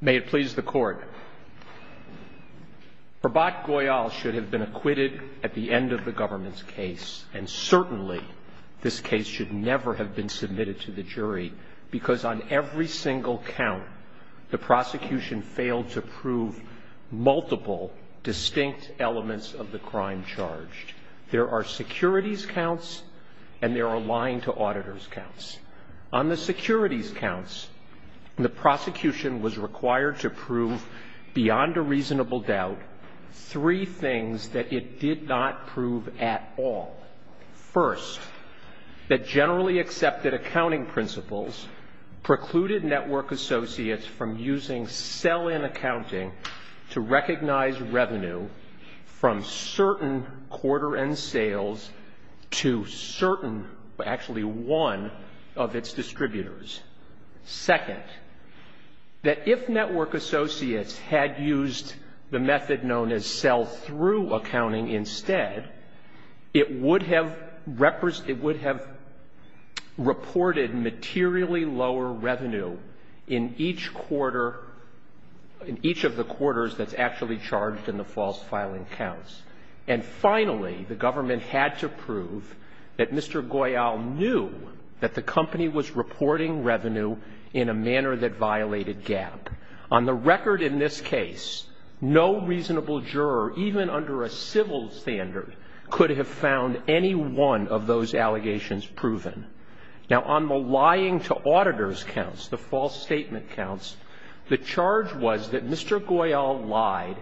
May it please the court. Prabhat Goyal should have been acquitted at the end of the government's case, and certainly this case should never have been submitted to the jury, because on every single count, the prosecution failed to prove multiple distinct elements of the crime charged. There are securities counts and there are lying-to-auditors counts. On the securities counts, the prosecution was required to prove beyond a reasonable doubt three things that it did not prove at all. First, that generally accepted accounting principles precluded network associates from using sell-in accounting to recognize revenue from certain quarter-end sales to certain, actually one, of its distributors. Second, that if network associates had used the method known as sell-through accounting instead, it would have reported materially lower revenue in each of the quarters that's actually charged in the false filing counts. And finally, the government had to prove that Mr. Goyal knew that the company was reporting revenue in a manner that violated GAAP. On the record in this case, no reasonable juror, even under a civil standard, could have found any one of those allegations proven. Now, on the lying-to-auditors counts, the false statement counts, the charge was that Mr. Goyal lied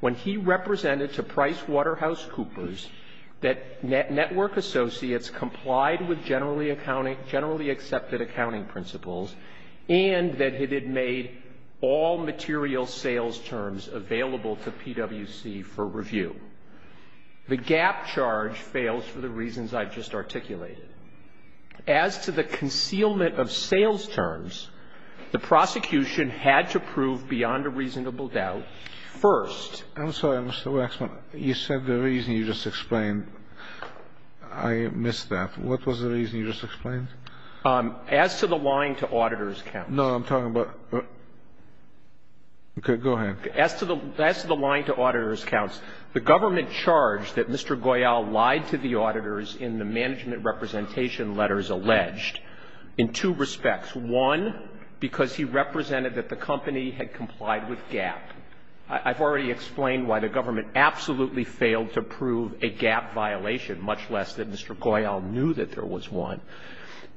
when he represented to PricewaterhouseCoopers that network associates complied with generally accepted accounting principles and that it had made all material sales terms available to PwC for review. The GAAP charge fails for the reasons I've just articulated. As to the concealment of sales terms, the prosecution had to prove beyond a reasonable doubt first. I'm sorry, Mr. Wexner. You said the reason you just explained. I missed that. What was the reason you just explained? As to the lying-to-auditors counts. No, I'm talking about... Okay, go ahead. As to the lying-to-auditors counts, the government charged that Mr. Goyal lied to the auditors in the management representation letters alleged in two respects. One, because he represented that the company had complied with GAAP. I've already explained why the government absolutely failed to prove a GAAP violation, much less that Mr. Goyal knew that there was one.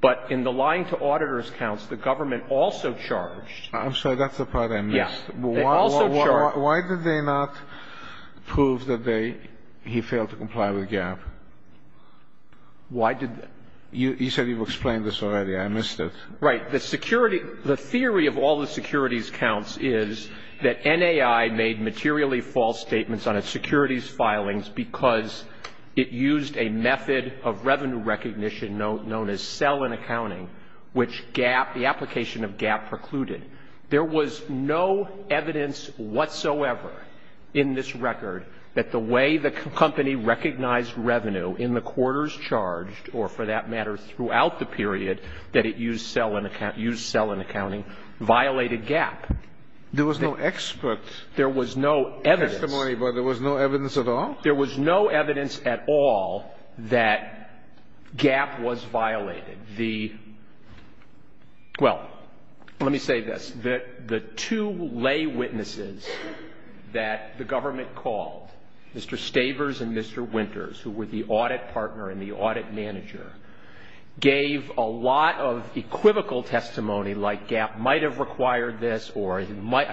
But in the lying-to-auditors counts, the government also charged... I'm sorry, that's the part I missed. Why did they not prove that he failed to comply with GAAP? You said you've explained this already. I missed it. Right. The theory of all the securities counts is that NAI made materially false statements on its securities filings because it used a method of revenue recognition known as sell-in accounting, which the application of GAAP precluded. There was no evidence whatsoever in this record that the way the company recognized revenue in the quarters charged, or for that matter throughout the period that it used sell-in accounting, violated GAAP. There was no expert testimony, but there was no evidence at all? There was no evidence at all that GAAP was violated. Well, let me say this. The two lay witnesses that the government called, Mr. Stavers and Mr. Winters, who were the audit partner and the audit manager, gave a lot of equivocal testimony like GAAP might have required this, or it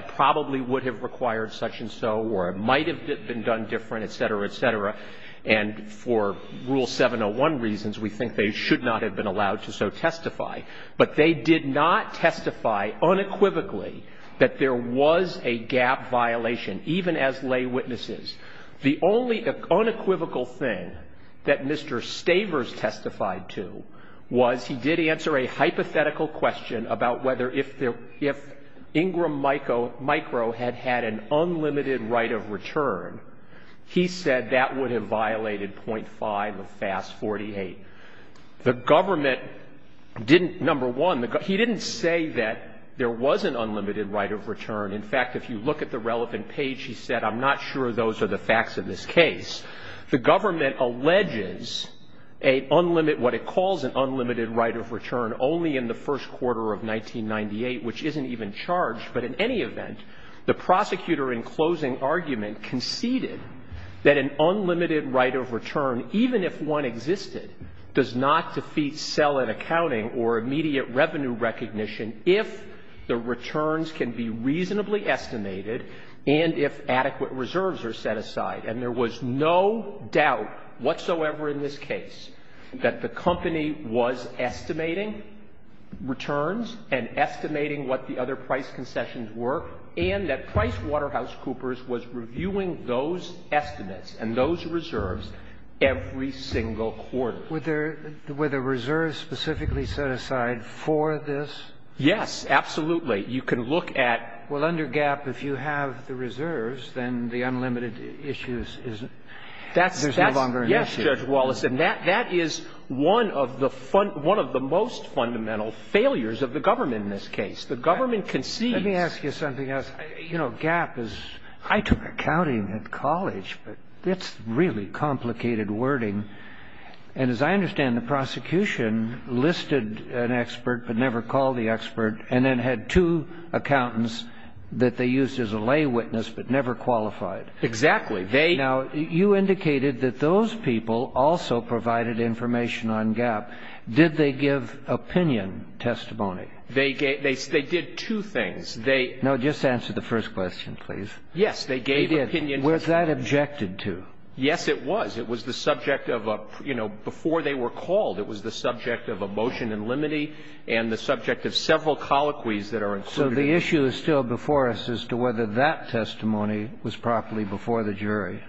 probably would have required such and so, or it might have been done different, etc., etc. And for Rule 701 reasons, we think they should not have been allowed to so testify. But they did not testify unequivocally that there was a GAAP violation, even as lay witnesses. The only unequivocal thing that Mr. Stavers testified to was he did answer a hypothetical question about whether if Ingram Micro had had an unlimited right of return, he said that would have violated .5 of FAS 48. The government didn't, number one, he didn't say that there was an unlimited right of return. In fact, if you look at the relevant page, he said, I'm not sure those are the facts of this case. The government alleges what it calls an unlimited right of return only in the first quarter of 1998, which isn't even charged. But in any event, the prosecutor in closing argument conceded that an unlimited right of return, even if one existed, does not defeat sell-in accounting or immediate revenue recognition if the returns can be reasonably estimated and if adequate reserves are set aside. And there was no doubt whatsoever in this case that the company was estimating returns and estimating what the other price concessions were and that PricewaterhouseCoopers was reviewing those estimates and those reserves every single quarter. Were the reserves specifically set aside for this? Yes, absolutely. Well, under GAAP, if you have the reserves, then the unlimited issues is that there's no longer an issue. Yes, Judge Wallace. And that is one of the most fundamental failures of the government in this case. The government conceded. Let me ask you something else. You know, GAAP is, I took accounting in college, but it's really complicated wording. And as I understand, the prosecution listed an expert but never called the expert and then had two accountants that they used as a lay witness but never qualified. Exactly. Now, you indicated that those people also provided information on GAAP. Did they give opinion testimony? They did two things. No, just answer the first question, please. Yes, they gave opinion. Was that objected to? Yes, it was. It was the subject of a, you know, before they were called, it was the subject of a motion in limine and the subject of several colloquies that are included. So the issue is still before us as to whether that testimony was properly before the jury.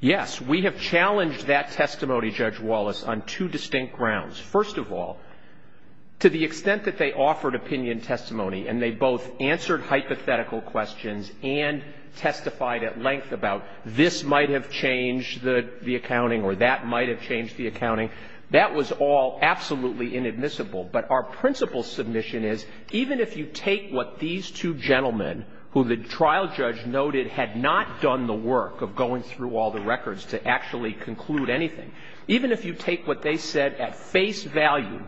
Yes, we have challenged that testimony, Judge Wallace, on two distinct grounds. First of all, to the extent that they offered opinion testimony and they both answered hypothetical questions and testified at length about this might have changed the accounting or that might have changed the accounting, that was all absolutely inadmissible. But our principal submission is even if you take what these two gentlemen, who the trial judge noted had not done the work of going through all the records to actually conclude anything, even if you take what they said at face value,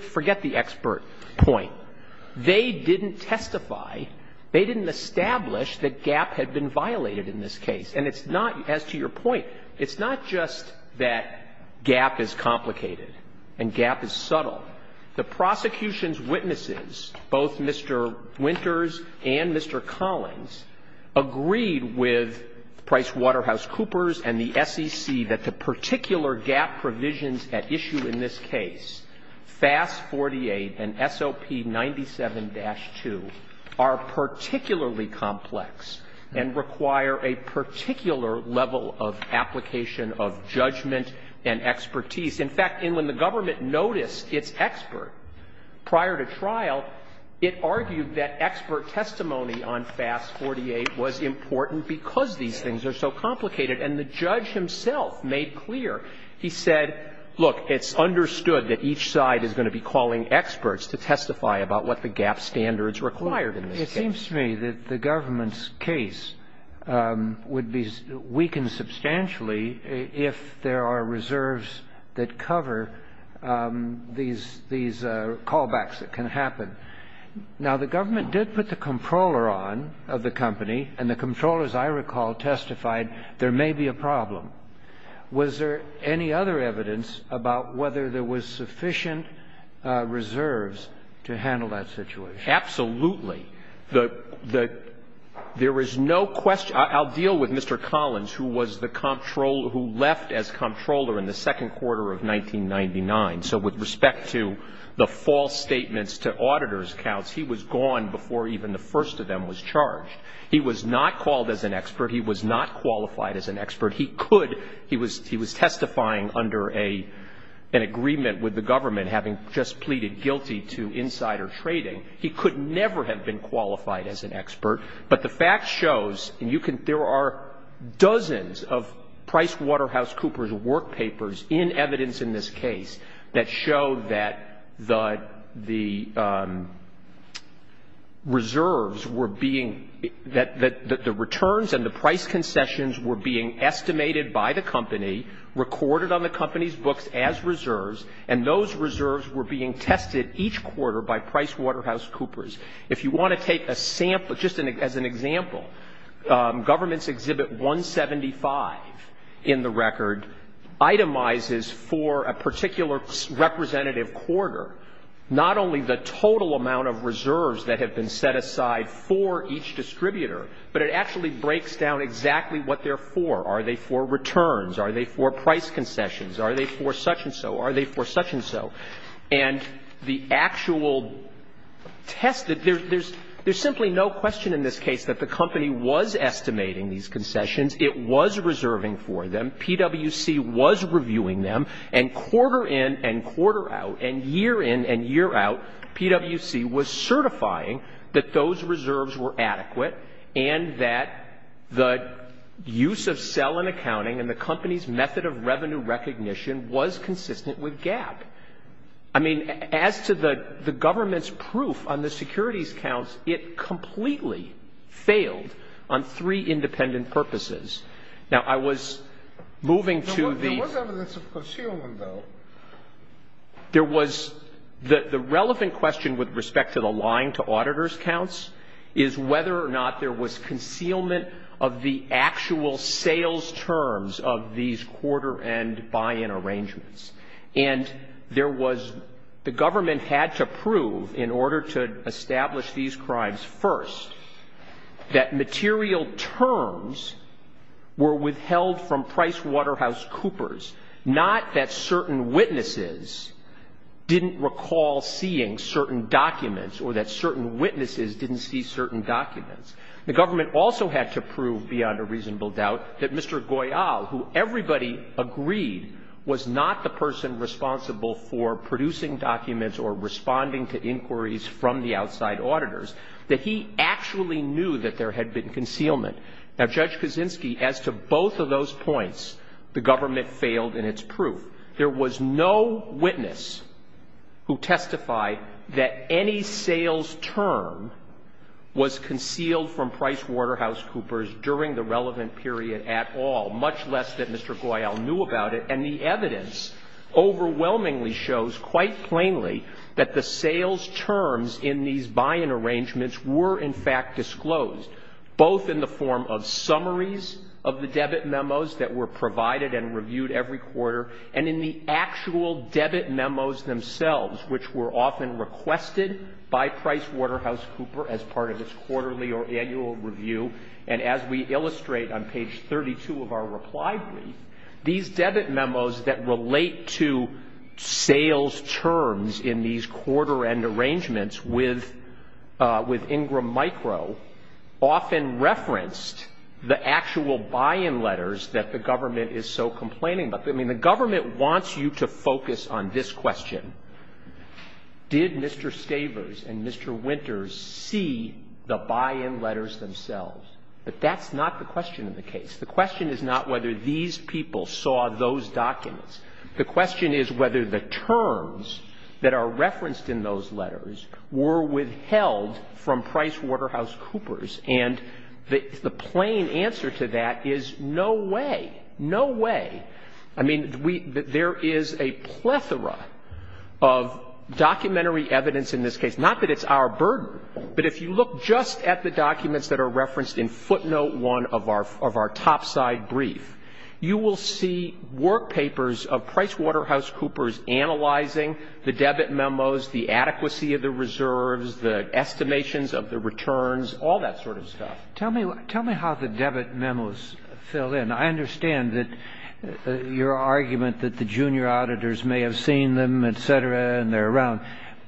forget the expert point, they didn't testify, they didn't establish that GAP had been violated in this case. And it's not, as to your point, it's not just that GAP is complicated and GAP is subtle. The prosecution's witnesses, both Mr. Winters and Mr. Collins, agreed with PricewaterhouseCoopers and the SEC that the particular GAP provisions at issue in this case, FAST-48 and SLP-97-2, are particularly complex and require a particular level of application of judgment and expertise. In fact, when the government noticed its expert prior to trial, it argued that expert testimony on FAST-48 was important because these things are so complicated. And the judge himself made clear. He said, look, it's understood that each side is going to be calling experts to testify about what the GAP standards required in this case. It seems to me that the government's case would be weakened substantially if there are reserves that cover these callbacks that can happen. Now, the government did put the controller on of the company, and the controller, as I recall, testified there may be a problem. Was there any other evidence about whether there was sufficient reserves to handle that situation? Absolutely. There was no question. I'll deal with Mr. Collins, who left as controller in the second quarter of 1999. So with respect to the false statements to auditor's accounts, he was gone before even the first of them was charged. He was not called as an expert. He was not qualified as an expert. He could. He was testifying under an agreement with the government, having just pleaded guilty to insider trading. He could never have been qualified as an expert. But the fact shows, and there are dozens of PricewaterhouseCoopers work papers in evidence in this case that show that the returns and the price concessions were being estimated by the company, recorded on the company's books as reserves, and those reserves were being tested each quarter by PricewaterhouseCoopers. If you want to take a sample, just as an example, government's Exhibit 175 in the record itemizes for a particular representative quarter not only the total amount of reserves that have been set aside for each distributor, but it actually breaks down exactly what they're for. Are they for returns? Are they for price concessions? Are they for such-and-so? Are they for such-and-so? And the actual test, there's simply no question in this case that the company was estimating these concessions. It was reserving for them. PwC was reviewing them. And quarter in and quarter out, and year in and year out, PwC was certifying that those reserves were adequate and that the use of sell-in accounting and the company's method of revenue recognition was consistent with GAAP. I mean, as to the government's proof on the securities counts, it completely failed on three independent purposes. Now, I was moving to the... There was evidence of concealment, though. There was. The relevant question with respect to the line to auditor's counts is whether or not there was concealment of the actual sales terms of these quarter-end buy-in arrangements. And there was... The government had to prove, in order to establish these crimes first, that material terms were withheld from PricewaterhouseCoopers, not that certain witnesses didn't recall seeing certain documents or that certain witnesses didn't see certain documents. The government also had to prove, beyond a reasonable doubt, that Mr. Goyal, who everybody agreed was not the person responsible for producing documents or responding to inquiries from the outside auditors, that he actually knew that there had been concealment. Now, Judge Kaczynski, as to both of those points, the government failed in its proof. There was no witness who testified that any sales term was concealed from PricewaterhouseCoopers during the relevant period at all, much less that Mr. Goyal knew about it. And the evidence overwhelmingly shows, quite plainly, that the sales terms in these buy-in arrangements were, in fact, disclosed, both in the form of summaries of the debit memos that were provided and reviewed every quarter, and in the actual debit memos themselves, which were often requested by PricewaterhouseCoopers as part of its quarterly or annual review. And as we illustrate on page 32 of our reply group, these debit memos that relate to sales terms in these quarter-end arrangements with Ingram Micro often referenced the actual buy-in letters that the government is so complaining about. I mean, the government wants you to focus on this question. Did Mr. Stavers and Mr. Winters see the buy-in letters themselves? But that's not the question in the case. The question is not whether these people saw those documents. The question is whether the terms that are referenced in those letters were withheld from PricewaterhouseCoopers. And the plain answer to that is no way, no way. I mean, there is a plethora of documentary evidence in this case. Not that it's our burden, but if you look just at the documents that are referenced in footnote 1 of our topside brief, you will see workpapers of PricewaterhouseCoopers analyzing the debit memos, the adequacy of the reserves, the estimations of the returns, all that sort of stuff. Tell me how the debit memos fill in. I understand your argument that the junior auditors may have seen them, et cetera, and they're around.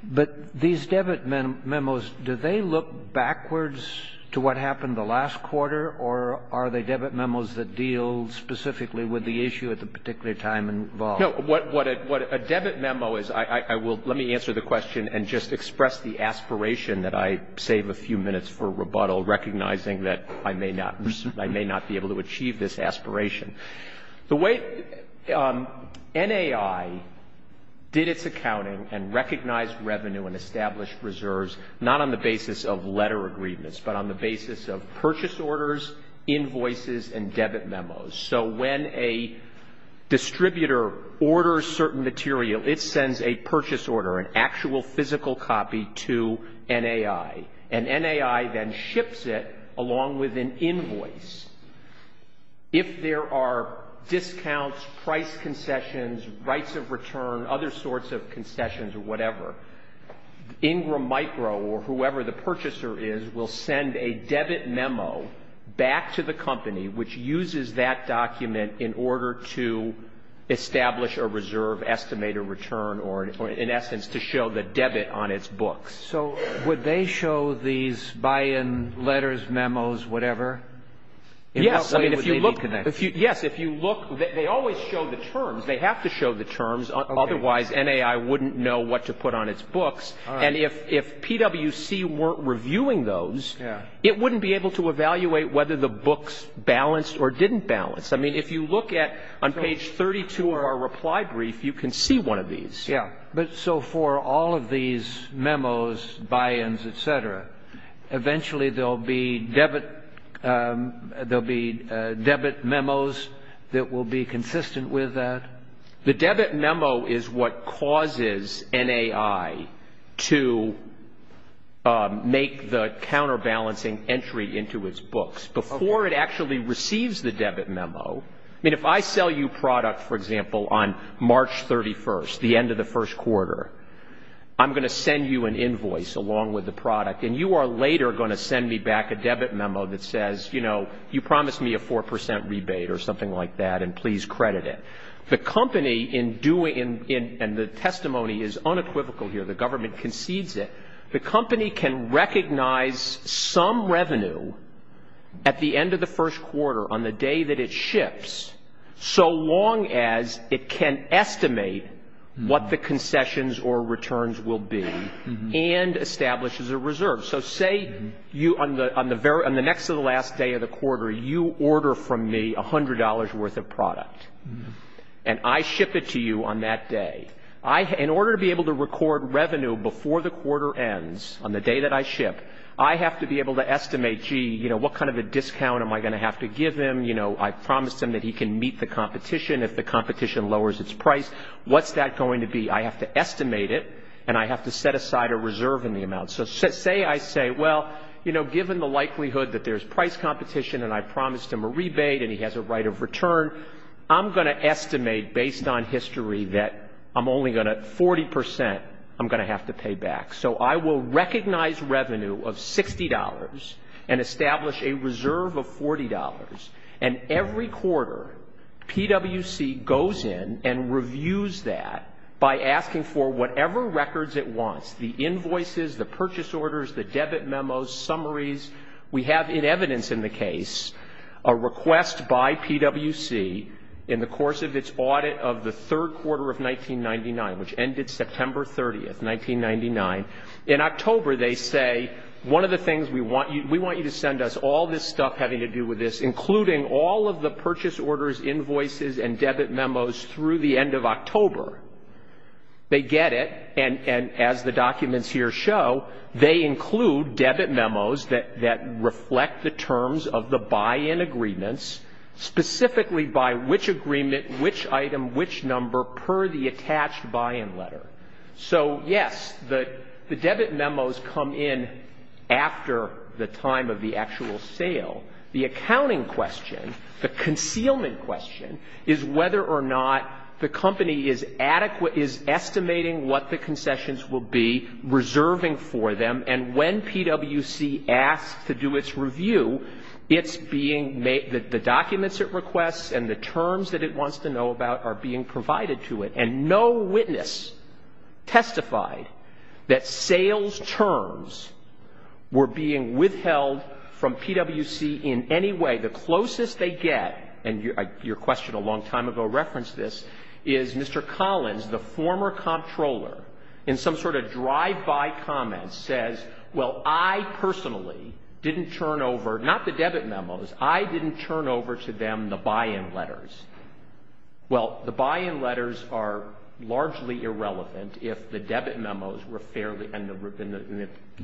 But these debit memos, do they look backwards to what happened the last quarter or are they debit memos that deal specifically with the issue at the particular time involved? No, what a debit memo is, let me answer the question and just express the aspiration that I save a few minutes for rebuttal, recognizing that I may not be able to achieve this aspiration. The way NAI did its accounting and recognized revenue and established reserves, not on the basis of letter agreements, but on the basis of purchase orders, invoices, and debit memos. So when a distributor orders certain material, it sends a purchase order, an actual physical copy to NAI. And NAI then ships it along with an invoice. If there are discounts, price concessions, rights of return, other sorts of concessions or whatever, Ingram Micro or whoever the purchaser is will send a debit memo back to the company which uses that document in order to establish a reserve, estimate a return, or in essence to show the debit on its books. So would they show these buy-in letters, memos, whatever? Yes, if you look, they always show the terms. They have to show the terms. Otherwise, NAI wouldn't know what to put on its books. And if PWC weren't reviewing those, it wouldn't be able to evaluate whether the books balanced or didn't balance. I mean, if you look at on page 32 of our reply brief, you can see one of these. So for all of these memos, buy-ins, et cetera, eventually there will be debit memos that will be consistent with that? The debit memo is what causes NAI to make the counterbalancing entry into its books. Before it actually receives the debit memo, if I sell you product, for example, on March 31st, the end of the first quarter, I'm going to send you an invoice along with the product, and you are later going to send me back a debit memo that says, you promised me a 4% rebate or something like that, and please credit it. The company, and the testimony is unequivocal here, the government concedes it, the company can recognize some revenue at the end of the first quarter on the day that it ships so long as it can estimate what the concessions or returns will be and establishes a reserve. So say on the next to the last day of the quarter, you order from me $100 worth of product, and I ship it to you on that day. In order to be able to record revenue before the quarter ends on the day that I ship, I have to be able to estimate, gee, what kind of a discount am I going to have to give him? I promised him that he can meet the competition if the competition lowers its price. What's that going to be? I have to estimate it, and I have to set aside a reserve in the amount. So say I say, well, you know, given the likelihood that there's price competition and I promised him a rebate and he has a right of return, I'm going to estimate based on history that I'm only going to, 40%, I'm going to have to pay back. So I will recognize revenue of $60 and establish a reserve of $40, and every quarter, PwC goes in and reviews that by asking for whatever records it wants, the invoices, the purchase orders, the debit memos, summaries. We have in evidence in the case a request by PwC in the course of its audit of the third quarter of 1999, which ended September 30th, 1999. In October, they say, one of the things we want you to send us, all this stuff having to do with this, including all of the purchase orders, invoices, and debit memos through the end of October. They get it, and as the documents here show, they include debit memos that reflect the terms of the buy-in agreements, specifically by which agreement, which item, which number per the attached buy-in letter. So, yes, the debit memos come in after the time of the actual sale. The accounting question, the concealment question, is whether or not the company is estimating what the concessions will be, reserving for them, and when PwC asks to do its review, the documents it requests and the terms that it wants to know about are being provided to it, and no witness testified that sales terms were being withheld from PwC in any way. The closest they get, and your question a long time ago referenced this, is Mr. Collins, the former comptroller, in some sort of drive-by comment says, well, I personally didn't turn over, not the debit memos, I didn't turn over to them the buy-in letters. Well, the buy-in letters are largely irrelevant if the debit memos were fairly, and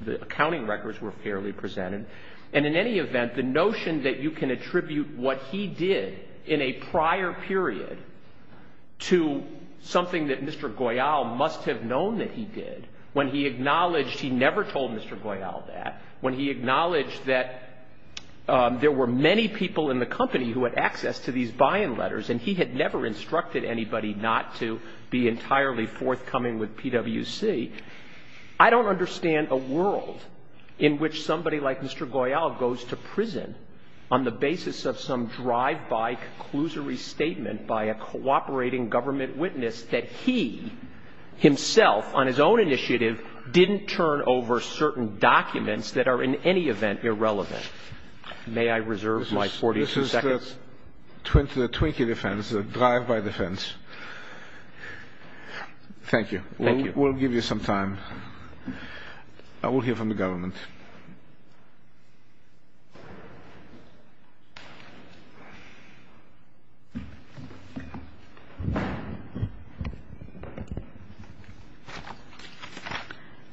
the accounting records were fairly presented, and in any event, the notion that you can attribute what he did in a prior period to something that Mr. Goyal must have known that he did, when he acknowledged he never told Mr. Goyal that, when he acknowledged that there were many people in the company who had access to these buy-in letters and he had never instructed anybody not to be entirely forthcoming with PwC, I don't understand a world in which somebody like Mr. Goyal goes to prison on the basis of some drive-by conclusory statement by a cooperating government witness that he himself, on his own initiative, didn't turn over certain documents that are in any event irrelevant. May I reserve my 42 seconds? This is the Twinkie defense, the drive-by defense. Thank you. We'll give you some time. I will hear from the government.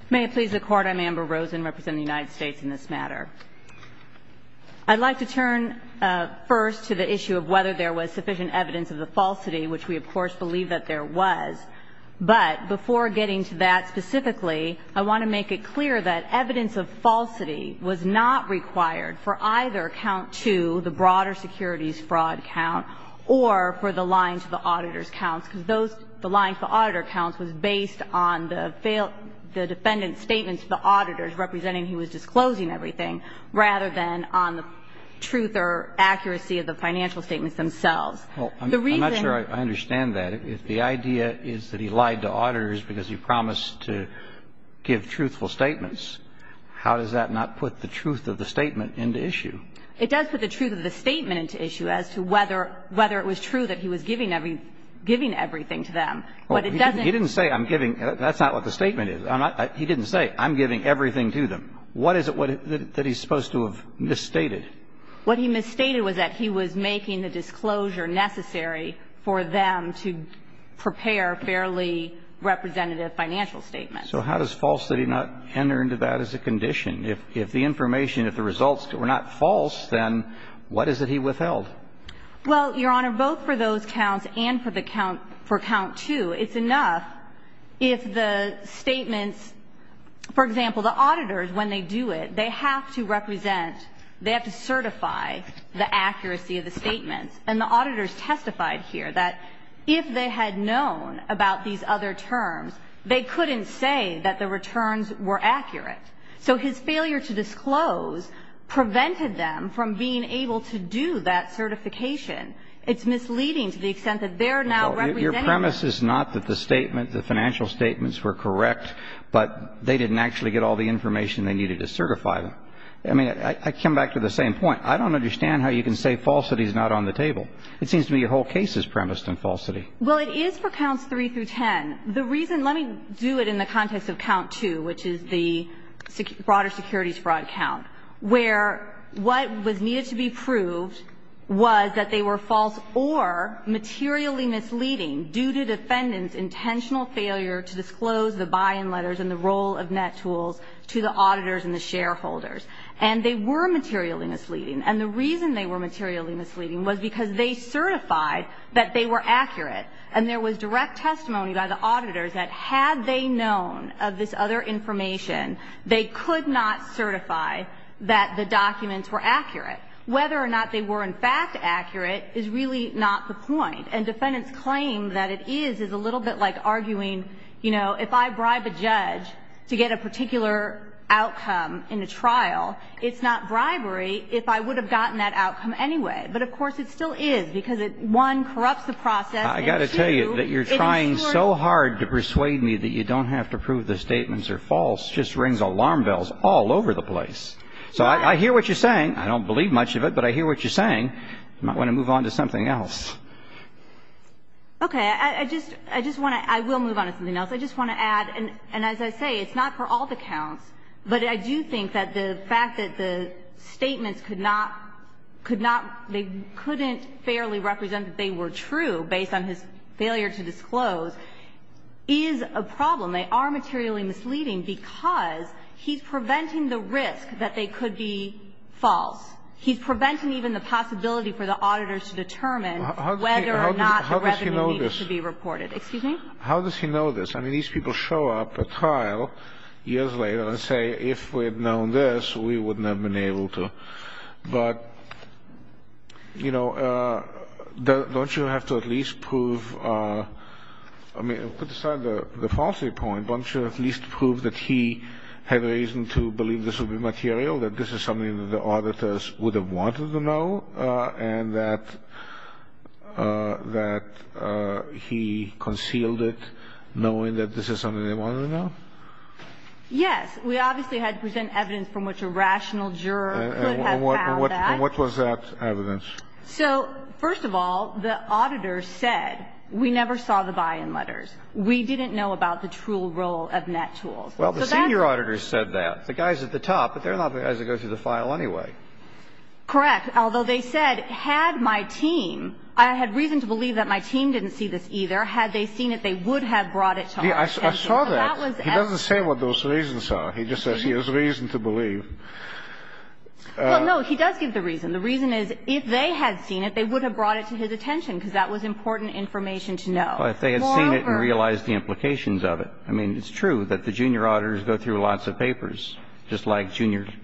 May it please the Court, I'm Amber Rosen representing the United States in this matter. I'd like to turn first to the issue of whether there was sufficient evidence of the falsity, which we, of course, believe that there was. But before getting to that specifically, I want to make it clear that evidence of falsity was not required for either count two, the broader securities fraud count, or for the line to the auditor's count. The line to the auditor's count was based on the defendant's statement to the auditors representing he was disclosing everything, rather than on the truth or accuracy of the financial statements themselves. I'm not sure I understand that. If the idea is that he lied to auditors because he promised to give truthful statements, how does that not put the truth of the statement into issue? It does put the truth of the statement into issue as to whether it was true that he was giving everything to them. He didn't say that's not what the statement is. He didn't say, I'm giving everything to them. What is it that he's supposed to have misstated? What he misstated was that he was making the disclosure necessary for them to prepare fairly representative financial statements. So how does falsity not enter into that as a condition? If the information, if the results were not false, then what is it he withheld? Well, Your Honor, both for those counts and for count two, it's enough if the statement, for example, the auditors, when they do it, they have to represent, they have to certify the accuracy of the statement. And the auditors testified here that if they had known about these other terms, they couldn't say that the returns were accurate. So his failure to disclose prevented them from being able to do that certification. It's misleading to the extent that they're now representing them. Your premise is not that the financial statements were correct, but they didn't actually get all the information they needed to certify them. I mean, I come back to the same point. I don't understand how you can say falsity is not on the table. It seems to me the whole case is premised on falsity. Well, it is for counts three through ten. The reason, let me do it in the context of count two, which is the broader securities fraud count, where what was needed to be proved was that they were false or materially misleading due to defendant's intentional failure to disclose the buy-in letters and the role of net tools to the auditors and the shareholders. And they were materially misleading. And the reason they were materially misleading was because they certified that they were accurate. And there was direct testimony by the auditors that had they known of this other information, they could not certify that the documents were accurate. Whether or not they were in fact accurate is really not the point. And defendant's claim that it is is a little bit like arguing, you know, if I bribe a judge to get a particular outcome in a trial, it's not bribery if I would have gotten that outcome anyway. But, of course, it still is because it, one, corrupts the process and, two, I've got to tell you that you're trying so hard to persuade me that you don't have to prove the statements are false just rings alarm bells all over the place. So I hear what you're saying. I don't believe much of it, but I hear what you're saying. Might want to move on to something else. Okay. I just want to, I will move on to something else. I just want to add, and as I say, it's not for all to count, but I do think that the fact that the statements could not, they couldn't fairly represent that they were true based on his failure to disclose is a problem. They are materially misleading because he's preventing the risk that they could be false. He's preventing even the possibility for the auditors to determine whether or not the evidence needed to be reported. Excuse me? How does he know this? I mean, these people show up at trial years later and say, if we had known this, we wouldn't have been able to. But, you know, don't you have to at least prove, I mean, put aside the falsity point, don't you at least prove that he had reason to believe this would be material, that this is something that the auditors would have wanted to know, and that he concealed it knowing that this is something they wanted to know? Yes. We obviously had to present evidence from which a rational juror would have found that. And what was that evidence? So, first of all, the auditors said, we never saw the buy-in letters. We didn't know about the true role of net tools. Well, the senior auditors said that. The guys at the top, but they're not the guys that go through the file anyway. Correct. Although they said, had my team, I had reason to believe that my team didn't see this either. Had they seen it, they would have brought it to our attention. I saw that. He doesn't say what those reasons are. He just says he has reason to believe. Well, no, he does give the reason. The reason is, if they had seen it, they would have brought it to his attention because that was important information to know. But they had seen it and realized the implications of it. I mean, it's true that the junior auditors go through lots of papers, just like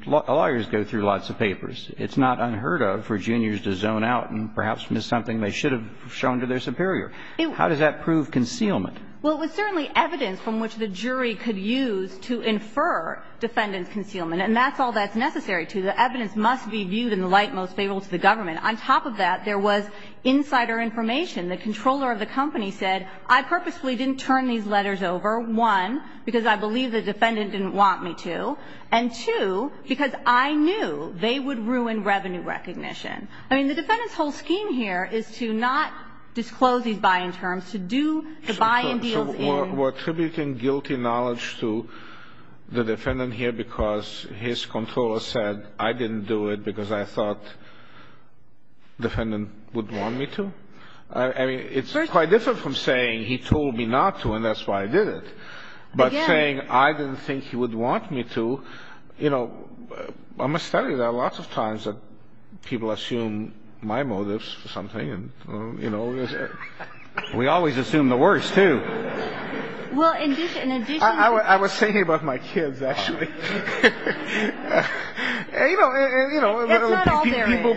lawyers go through lots of papers. It's not unheard of for juniors to zone out and perhaps miss something they should have shown to their superior. How does that prove concealment? Well, it was certainly evidence from which the jury could use to infer defendant concealment. And that's all that's necessary to. The evidence must be viewed in the light most favorable to the government. On top of that, there was insider information. The controller of the company said, I purposely didn't turn these letters over. One, because I believe the defendant didn't want me to. And two, because I knew they would ruin revenue recognition. I mean, the defendant's whole scheme here is to not disclose these buying terms, to buy and deal in. So we're attributing guilty knowledge to the defendant here because his controller said, I didn't do it because I thought the defendant would want me to? I mean, it's quite different from saying, he told me not to and that's why I did it. But saying, I didn't think he would want me to, you know, I must tell you there are lots of times that people assume my motives for something. You know, we always assume the worst, too. I was thinking about my kids, actually. You know,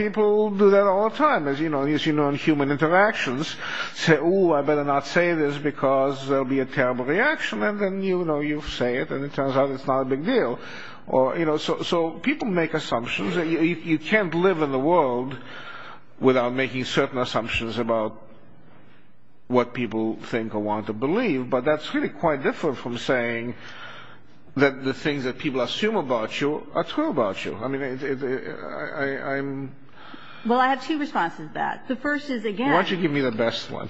people do that all the time, as you know, in human interactions. Say, oh, I better not say this because there will be a terrible reaction. And then, you know, you say it and it turns out it's not a big deal. So people make assumptions. You can't live in the world without making certain assumptions about what people think or want to believe. But that's really quite different from saying that the things that people assume about you are true about you. I mean, I'm... Well, I have two responses to that. The first is, again... Why don't you give me the best one?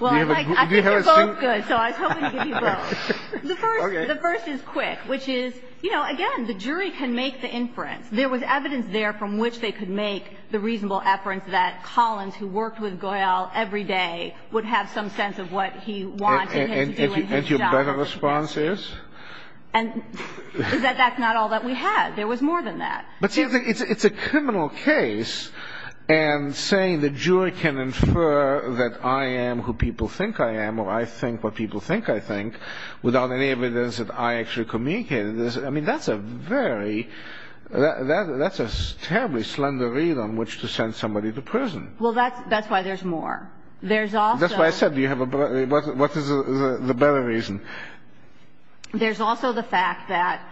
Well, I think you're both good, so I was hoping to give you both. The first is quick, which is, you know, again, the jury can make the inference. There was evidence there from which they could make the reasonable inference that Collins, who worked with Goyal every day, would have some sense of what he wanted him to do in his job. And your better response is? And that that's not all that we had. There was more than that. But it's a criminal case, and saying the jury can infer that I am who people think I am or I think what people think I think without any evidence that I actually communicated this, I mean, that's a very... That's a terribly slender reason on which to send somebody to prison. Well, that's why there's more. There's also... That's why I said you have a... What is the better reason? There's also the fact that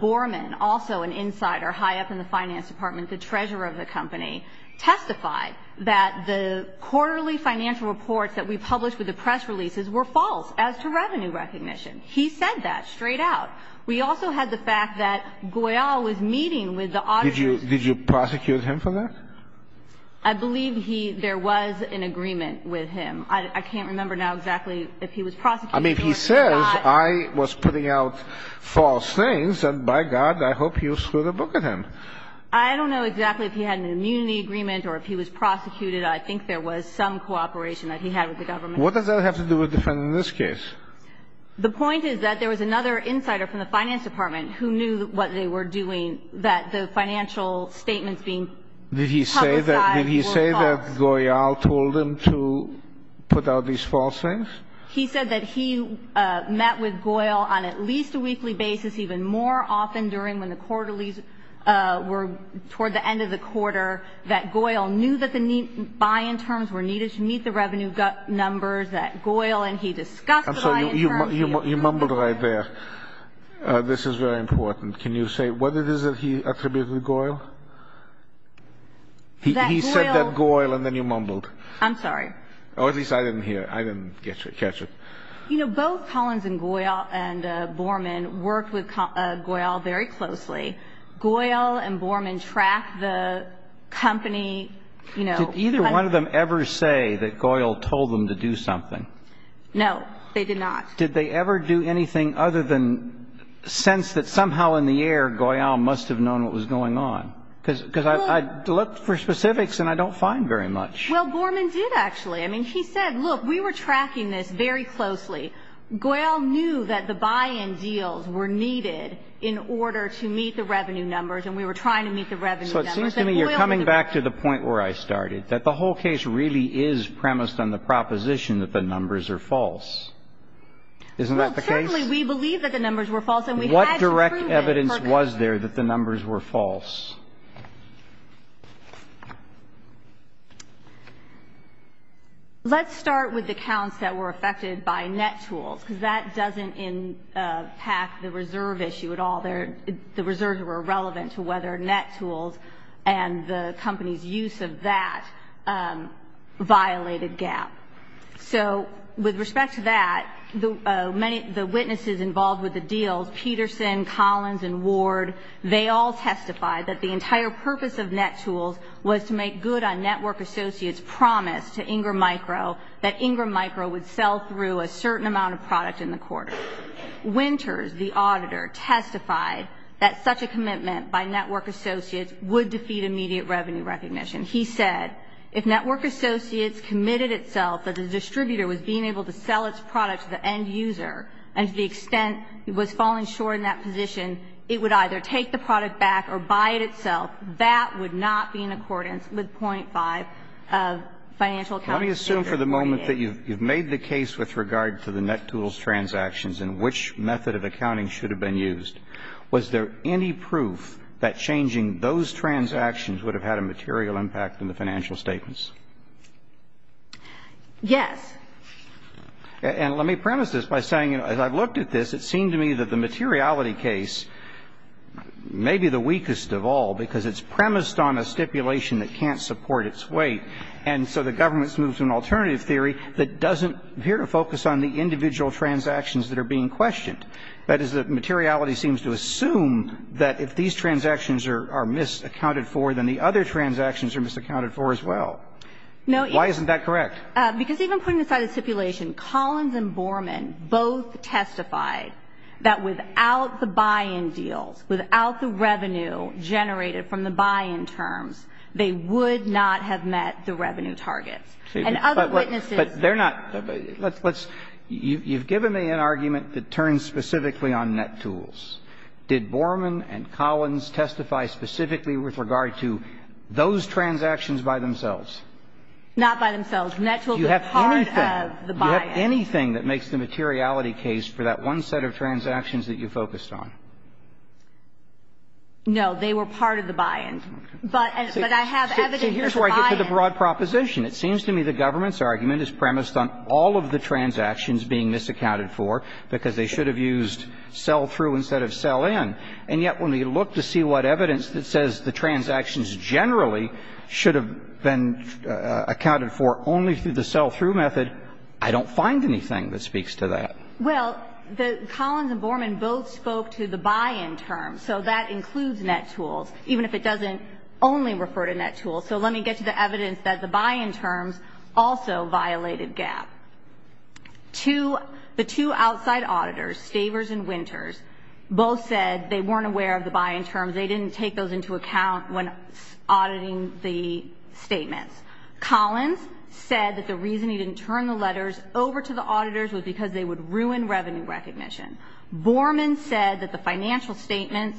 Borman, also an insider high up in the finance department, the treasurer of the company, testified that the quarterly financial reports that we published with the press releases were false as to revenue recognition. He said that straight out. We also had the fact that Goyal was meeting with the... Did you prosecute him for that? I believe there was an agreement with him. I can't remember now exactly if he was prosecuted or not. I mean, he says, I was putting out false things, and by God, I hope you screwed a book at him. I don't know exactly if he had an immunity agreement or if he was prosecuted. I think there was some cooperation that he had with the government. What does that have to do with defending this case? The point is that there was another insider from the finance department who knew what they were doing, that the financial statements seemed... Did he say that Goyal told him to put out these false things? He said that he met with Goyal on at least a weekly basis, even more often during when the quarterlies were toward the end of the quarter, that Goyal knew that the buy-in terms were needed to meet the revenue numbers, that Goyal and he discussed the buy-in terms... I'm sorry, you mumbled right there. This is very important. Can you say what it is that he attributed to Goyal? He said that Goyal, and then you mumbled. I'm sorry. Or at least I didn't hear it. I didn't catch it. You know, both Collins and Goyal and Borman worked with Goyal very closely. Goyal and Borman tracked the company... Did either one of them ever say that Goyal told them to do something? No, they did not. Did they ever do anything other than sense that somehow in the air, Goyal must have known what was going on? Because I looked for specifics and I don't find very much. Well, Borman did actually. I mean, he said, look, we were tracking this very closely. Goyal knew that the buy-in deals were needed in order to meet the revenue numbers, and we were trying to meet the revenue numbers. So it seems to me you're coming back to the point where I started, that the whole case really is premised on the proposition that the numbers are false. Isn't that the case? Well, certainly we believe that the numbers were false. What direct evidence was there that the numbers were false? Let's start with the counts that were affected by NetTools because that doesn't impact the reserve issue at all. The reserves were irrelevant to whether NetTools and the company's use of that violated GAAP. So with respect to that, the witnesses involved with the deal, Peterson, Collins, and Ward, they all testified that the entire purpose of NetTools was to make good on Network Associates' promise to Ingram Micro that Ingram Micro would sell through a certain amount of product in the quarter. Winters, the auditor, testified that such a commitment by Network Associates would defeat immediate revenue recognition. He said if Network Associates committed itself that the distributor was being able to sell its product to the end user and to the extent it was falling short in that position, it would either take the product back or buy it itself. That would not be in accordance with .5 of financial accountability. Let me assume for the moment that you've made the case with regard to the NetTools transactions and which method of accounting should have been used. Was there any proof that changing those transactions would have had a material impact in the financial statements? Yes. And let me premise this by saying as I've looked at this, it seemed to me that the materiality case may be the weakest of all because it's premised on a stipulation that can't support its weight and so the government's moved to an alternative theory that doesn't appear to focus on the individual transactions that are being questioned. That is, the materiality seems to assume that if these transactions are misaccounted for, then the other transactions are misaccounted for as well. Why isn't that correct? Because even putting aside the stipulation, Collins and Borman both testified that without the buy-in deal, without the revenue generated from the buy-in terms, they would not have met the revenue target. But they're not... You've given me an argument that turns specifically on NetTools. Did Borman and Collins testify specifically with regard to those transactions by themselves? Not by themselves. NetTools is part of the buy-in. Do you have anything that makes the materiality case for that one set of transactions that you focused on? But I have evidence for the buy-in. Here's where I get to the broad proposition. It seems to me the government's argument is premised on all of the transactions being misaccounted for because they should have used sell-through instead of sell-in. And yet when we look to see what evidence that says the transactions generally should have been accounted for only through the sell-through method, I don't find anything that speaks to that. Well, Collins and Borman both spoke to the buy-in term, so that includes NetTools, even if it doesn't only refer to NetTools. So let me get to the evidence that the buy-in term also violated GAAP. The two outside auditors, Savers and Winters, both said they weren't aware of the buy-in terms. They didn't take those into account when auditing the statement. Collins said that the reason he didn't turn the letters over to the auditors was because they would ruin revenue recognition. Borman said that the financial statements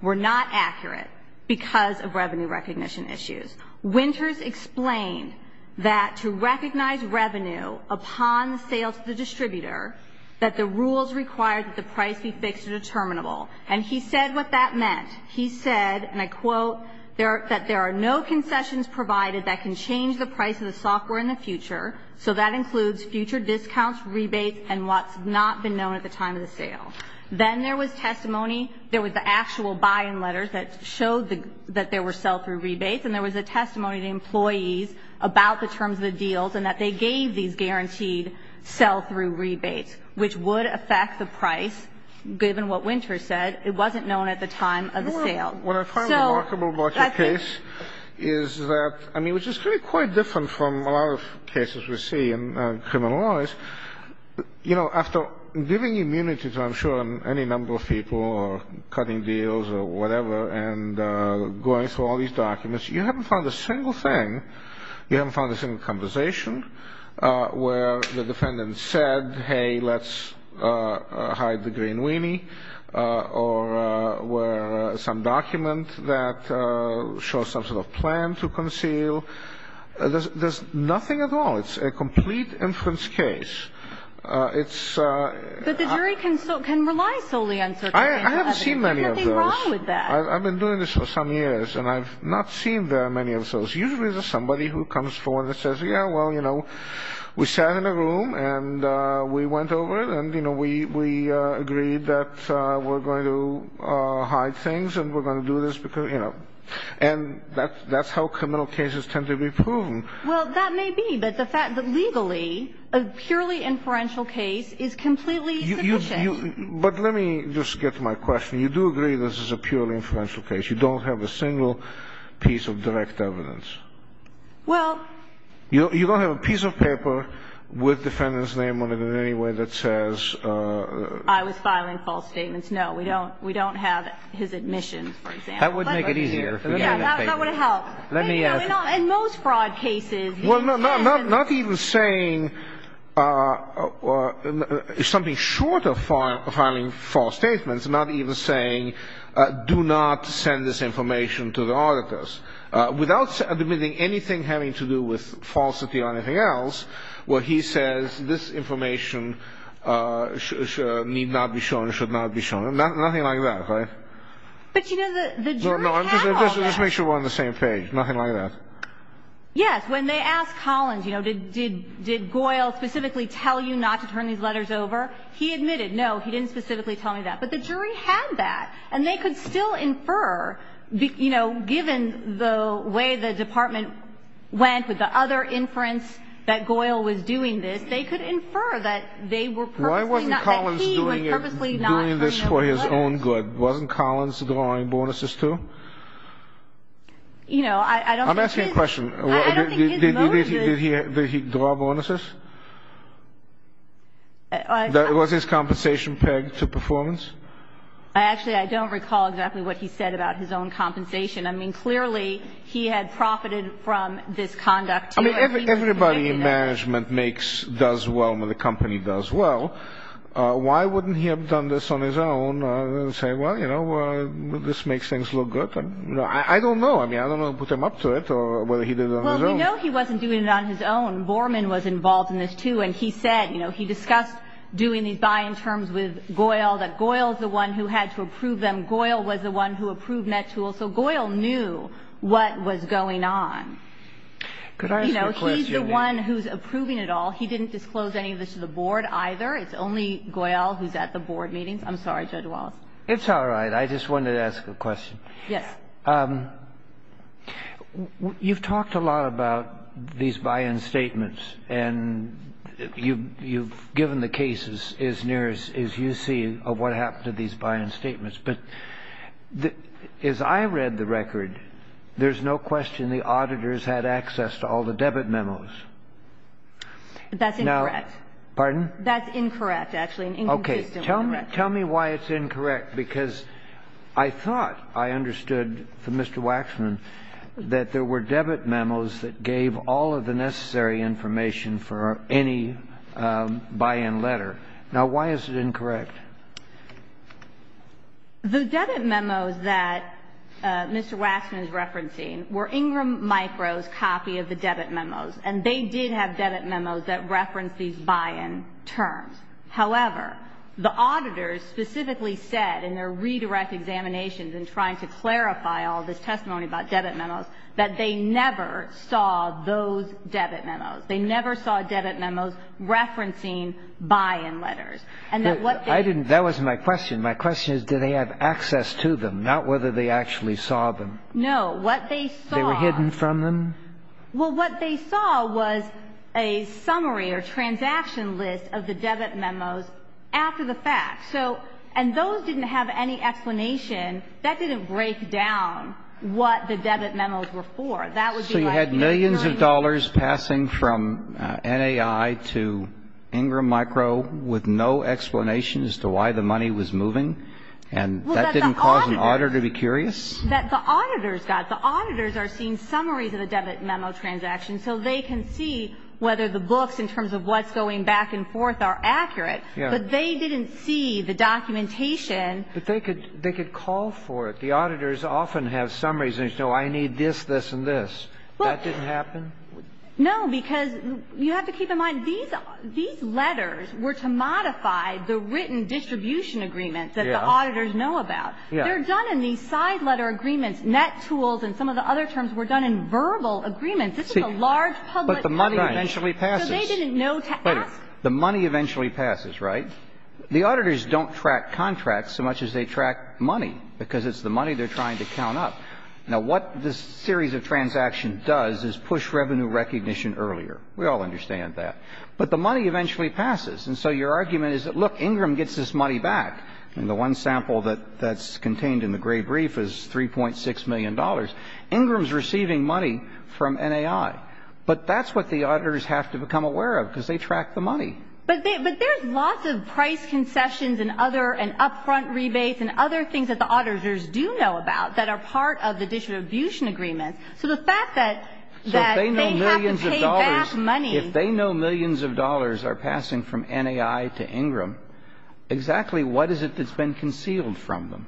were not accurate because of revenue recognition issues. Winters explained that to recognize revenue upon sales to the distributor, that the rules require that the price be fixed or determinable. And he said what that meant. He said, and I quote, that there are no concessions provided that can change the price of the software in the future, so that includes future discounts, rebates, and what's not been known at the time of the sale. Then there was testimony, there was actual buy-in letters that showed that there were sell-through rebates, and there was a testimony of the employees about the terms of the deals and that they gave these guaranteed sell-through rebates, which would affect the price, given what Winters said. It wasn't known at the time of the sale. What I find remarkable about the case is that, I mean, which is quite different from a lot of cases we see in criminal laws, you know, after giving immunities, I'm sure, on any number of people, or cutting deals or whatever, and going through all these documents, you haven't found a single thing, you haven't found a single conversation where the defendant said, hey, let's hide the green weenie, or where some document that shows some sort of plan to conceal. There's nothing at all. It's a complete inference case. But the jury can reliably answer that. I haven't seen many of those. What's wrong with that? I've been doing this for some years, and I've not seen very many of those. Usually there's somebody who comes forward and says, yeah, well, you know, we sat in a room, and we went over it, and we agreed that we're going to hide things, and we're going to do this because, you know. And that's how criminal cases tend to be proven. Well, that may be, but the fact that legally a purely inferential case is completely sufficient. But let me just get to my question. You do agree this is a purely inferential case. You don't have a single piece of direct evidence. Well... You don't have a piece of paper with the defendant's name on it in any way that says... I would file in false statements. No, we don't have his admissions, for example. That would make it easier. That would help. And most fraud cases... Well, no, not even saying... It's something short of filing false statements, not even saying, do not send this information to the auditors. Without admitting anything having to do with falsity or anything else, what he says, this information need not be shown, should not be shown. Nothing like that, right? But, you know, the... No, no, I'm just making sure we're on the same page. Nothing like that. Yes, when they asked Collins, you know, did Goyle specifically tell you not to turn these letters over, he admitted, no, he didn't specifically tell me that. But the jury had that. And they could still infer, you know, given the way the department went with the other inference that Goyle was doing this, they could infer that they were purposely not... Why wasn't Collins doing this for his own good? Wasn't Collins the one I'm bonuses to? You know, I don't think... I'm asking a question. I don't think his motive... Did he draw bonuses? Was his compensation pegged to performance? Actually, I don't recall exactly what he said about his own compensation. I mean, clearly, he had profited from this conduct. I mean, everybody in management does well when the company does well. Why wouldn't he have done this on his own? Well, you know, this makes things look good. I don't know. I mean, I don't want to put him up to it or whether he did it on his own. Well, we know he wasn't doing it on his own. Borman was involved in this, too. And he said, you know, he discussed doing these buying terms with Goyle, that Goyle is the one who had to approve them. Goyle was the one who approved NetTool. So Goyle knew what was going on. Could I ask a question? You know, he's the one who's approving it all. He didn't disclose any of this to the board either. It's only Goyle who's at the board meetings. I'm sorry, Judge Wallace. It's all right. I just wanted to ask a question. Yes. You've talked a lot about these buy-in statements. And you've given the cases as near as you see of what happened to these buy-in statements. But as I read the record, there's no question the auditors had access to all the debit memos. That's incorrect. Pardon? That's incorrect, actually. Okay. Tell me why it's incorrect because I thought I understood from Mr. Waxman that there were debit memos that gave all of the necessary information for any buy-in letter. Now, why is it incorrect? The debit memos that Mr. Waxman is referencing were Ingram Micro's copy of the debit memos. And they did have debit memos that referenced these buy-in terms. However, the auditors specifically said in their redirect examinations in trying to clarify all the testimony about debit memos that they never saw those debit memos. They never saw debit memos referencing buy-in letters. That wasn't my question. My question is did they have access to them, not whether they actually saw them. No. What they saw... They were hidden from them? Well, what they saw was a summary or transaction list of the debit memos after the fact. And those didn't have any explanation. That didn't break down what the debit memos were for. So you had millions of dollars passing from NAI to Ingram Micro with no explanation as to why the money was moving? And that didn't cause an auditor to be curious? That the auditors got. The auditors are seeing summaries of the debit memo transactions so they can see whether the books in terms of what's going back and forth are accurate. But they didn't see the documentation. But they could call for it. The auditors often have summaries and say, I need this, this, and this. That didn't happen? No, because you have to keep in mind these letters were to modify the written distribution agreements that the auditors know about. They're done in these side letter agreements. Net tools and some of the other terms were done in verbal agreements. This is a large public... But the money eventually passes. So they didn't know... The money eventually passes, right? The auditors don't track contracts so much as they track money because it's the money they're trying to count up. Now, what this series of transactions does is push revenue recognition earlier. We all understand that. But the money eventually passes. And so your argument is that, look, Ingram gets its money back. And the one sample that's contained in the great brief is $3.6 million. Ingram's receiving money from NAI. But that's what the auditors have to become aware of because they track the money. But there's lots of price concessions and upfront rebates and other things that the auditors do know about that are part of the distribution agreement. So the fact that they have to pay back money... Why is it that it's been concealed from them?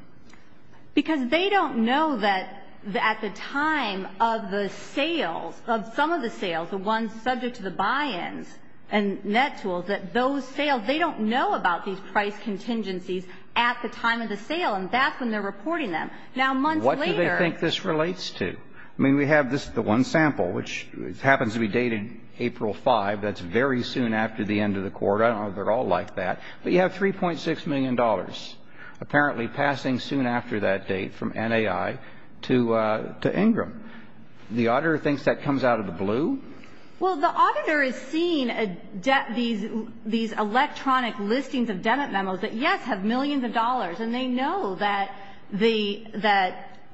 Because they don't know that at the time of the sale, of some of the sales, the ones subject to the buy-in and net tools, that those sales, they don't know about these price contingencies at the time of the sale and back when they're reporting them. Now, months later... What do they think this relates to? I mean, we have this one sample, which happens to be dated April 5. That's very soon after the end of the quarter. I don't know if they're all like that. But you have $3.6 million apparently passing soon after that date from NAI to Ingram. The auditor thinks that comes out of the blue? Well, the auditor is seeing these electronic listings of debit memos that, yes, have millions of dollars, and they know that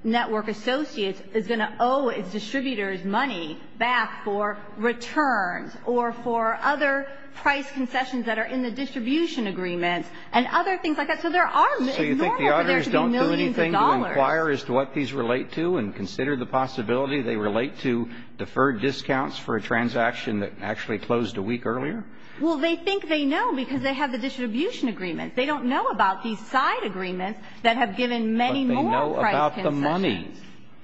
Network Associates is going to owe its distributors money back for returns or for other price concessions that are in the distribution agreement and other things like that. So there are millions of dollars. So you think the auditors don't do anything to inquire as to what these relate to and consider the possibility they relate to deferred discounts for a transaction that actually closed a week earlier? Well, they think they know because they have a distribution agreement. They don't know about these side agreements that have given many more price concessions. But they know about the money.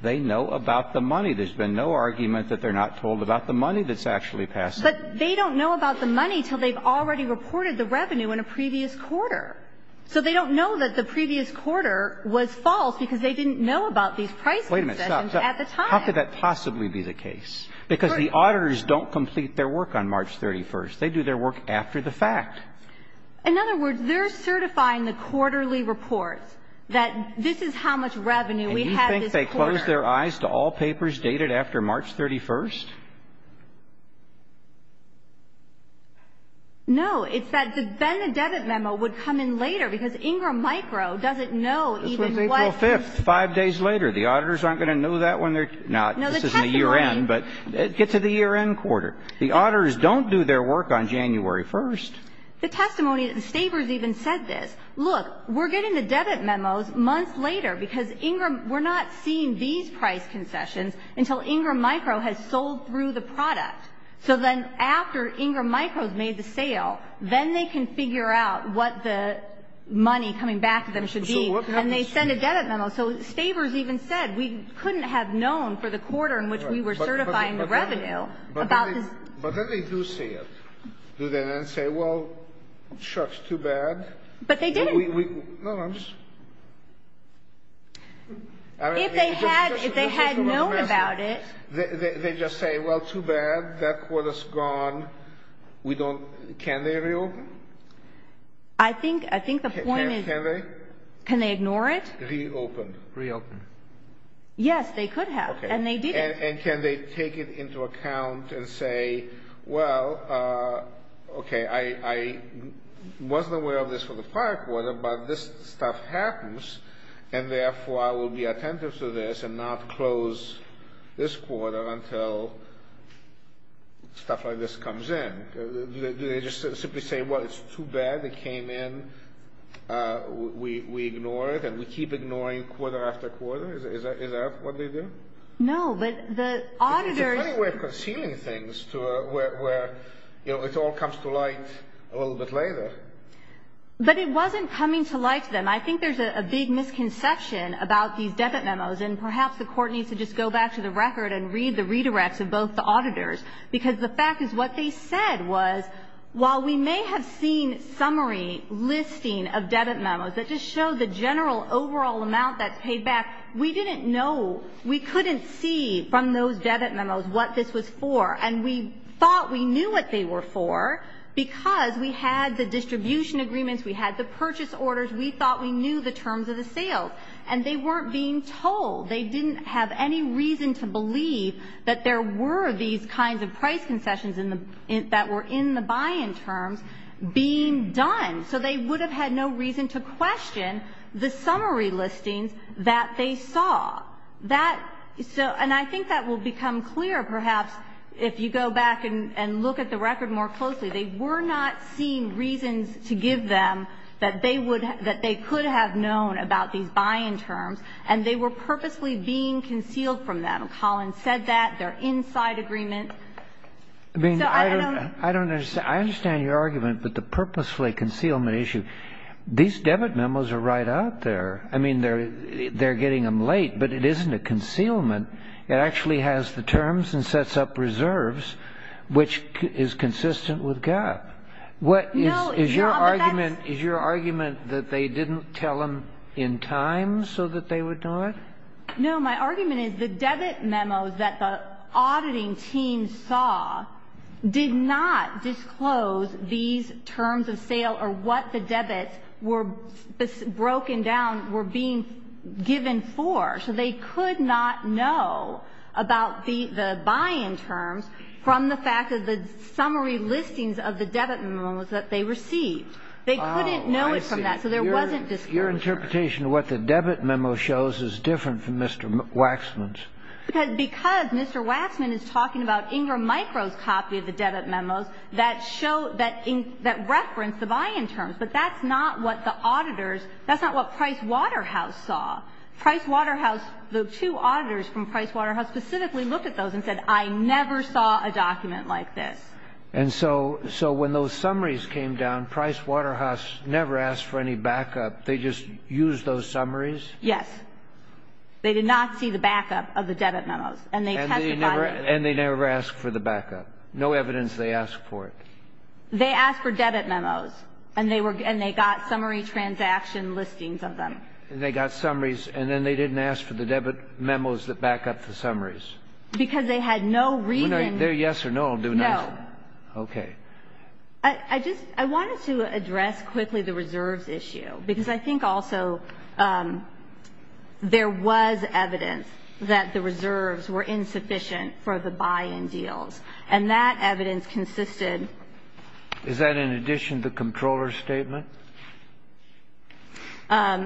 They know about the money. There's been no argument that they're not told about the money that's actually passing. But they don't know about the money until they've already reported the revenue in a previous quarter. So they don't know that the previous quarter was false because they didn't know about these price concessions at the time. How could that possibly be the case? Because the auditors don't complete their work on March 31st. They do their work after the fact. In other words, they're certifying the quarterly report that this is how much revenue we had this quarter. Did they close their eyes to all papers dated after March 31st? No. It said that then the debit memo would come in later because Ingram Micro doesn't know even what... It's April 5th, five days later. The auditors aren't going to know that when they're... No, the testimony... This isn't the year end, but get to the year end quarter. The auditors don't do their work on January 1st. The testimony that the stafers even said this, Look, we're getting the debit memos months later because we're not seeing these price concessions until Ingram Micro has sold through the product. So then after Ingram Micro has made the sale, then they can figure out what the money coming back to them should be. And they send a debit memo. So stafers even said we couldn't have known for the quarter in which we were certifying the revenue. But then they do say it. Do they then say, well, shucks, too bad. But they did. No, I'm just... If they had known about it... They just say, well, too bad. That quarter's gone. We don't... Can they reopen? I think the point is... Can they? Can they ignore it? Reopen. Reopen. Yes, they could have, and they did. And can they take it into account and say, well, okay, I wasn't aware of this for the prior quarter, but this stuff happens, and therefore I will be attentive to this and not close this quarter until stuff like this comes in. Do they just simply say, well, it's too bad. It came in. We ignore it, and we keep ignoring quarter after quarter. Is that what they do? No, but the auditors... Is there any way of concealing things to where it all comes to light a little bit later? But it wasn't coming to light then. I think there's a big misconception about these debit memos, and perhaps the court needs to just go back to the record and read the redirects of both the auditors because the fact is what they said was while we may have seen summary listing of debit memos that just showed the general overall amount that paid back, we didn't know, we couldn't see from those debit memos what this was for. And we thought we knew what they were for because we had the distribution agreements. We had the purchase orders. We thought we knew the terms of the sale, and they weren't being told. They didn't have any reason to believe that there were these kinds of price concessions that were in the buy-in term being done. So they would have had no reason to question the summary listing that they saw. And I think that will become clear perhaps if you go back and look at the record more closely. They were not seeing reasons to give them that they could have known about the buy-in term, and they were purposely being concealed from them. Collin said that, their inside agreement. I understand your argument, but the purposefully concealment issue, these debit memos are right out there. I mean, they're getting them late, but it isn't a concealment. It actually has the terms and sets up reserves, which is consistent with GAAP. Is your argument that they didn't tell them in time so that they would know it? No, my argument is the debit memos that the auditing team saw did not disclose these terms of sale or what the debits were broken down, were being given for. So they could not know about the buy-in term from the fact of the summary listings of the debit memos that they received. They couldn't know it from that, so there wasn't disclosure. Your interpretation of what the debit memo shows is different from Mr. Waxman's. Because Mr. Waxman is talking about Ingram Micro's copy of the debit memo that referenced the buy-in terms, but that's not what the auditors, that's not what Price Waterhouse saw. Price Waterhouse, the two auditors from Price Waterhouse, specifically looked at those and said, I never saw a document like this. And so when those summaries came down, Price Waterhouse never asked for any backup. They just used those summaries? Yes. They did not see the backup of the debit memos. And they never asked for the backup. No evidence they asked for it. They asked for debit memos, and they got summary transaction listings of them. And they got summaries, and then they didn't ask for the debit memos that backup the summaries. Because they had no reason. They're yes or no on doing that? No. Okay. I wanted to address quickly the reserves issue, because I think also there was evidence that the reserves were insufficient for the buy-in deals. And that evidence consisted. Is that in addition to the controller's statement?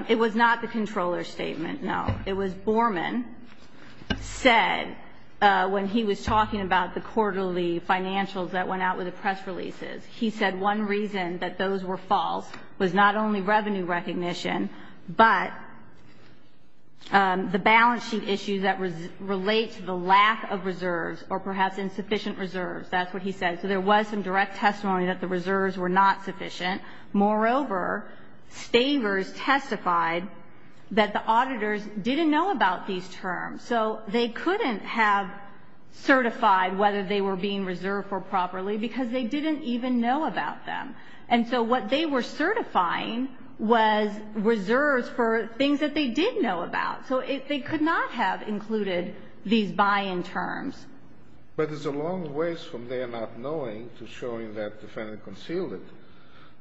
It was not the controller's statement, no. It was Borman said when he was talking about the quarterly financials that went out with the press releases. He said one reason that those were false was not only revenue recognition, but the balance sheet issues that relate to the lack of reserves or perhaps insufficient reserves. That's what he said. So there was some direct testimony that the reserves were not sufficient. Moreover, staters testified that the auditors didn't know about these terms. So they couldn't have certified whether they were being reserved for properly, because they didn't even know about them. And so what they were certifying was reserves for things that they did know about. So they could not have included these buy-in terms. But it's a long ways from their not knowing to showing that the defendant concealed it.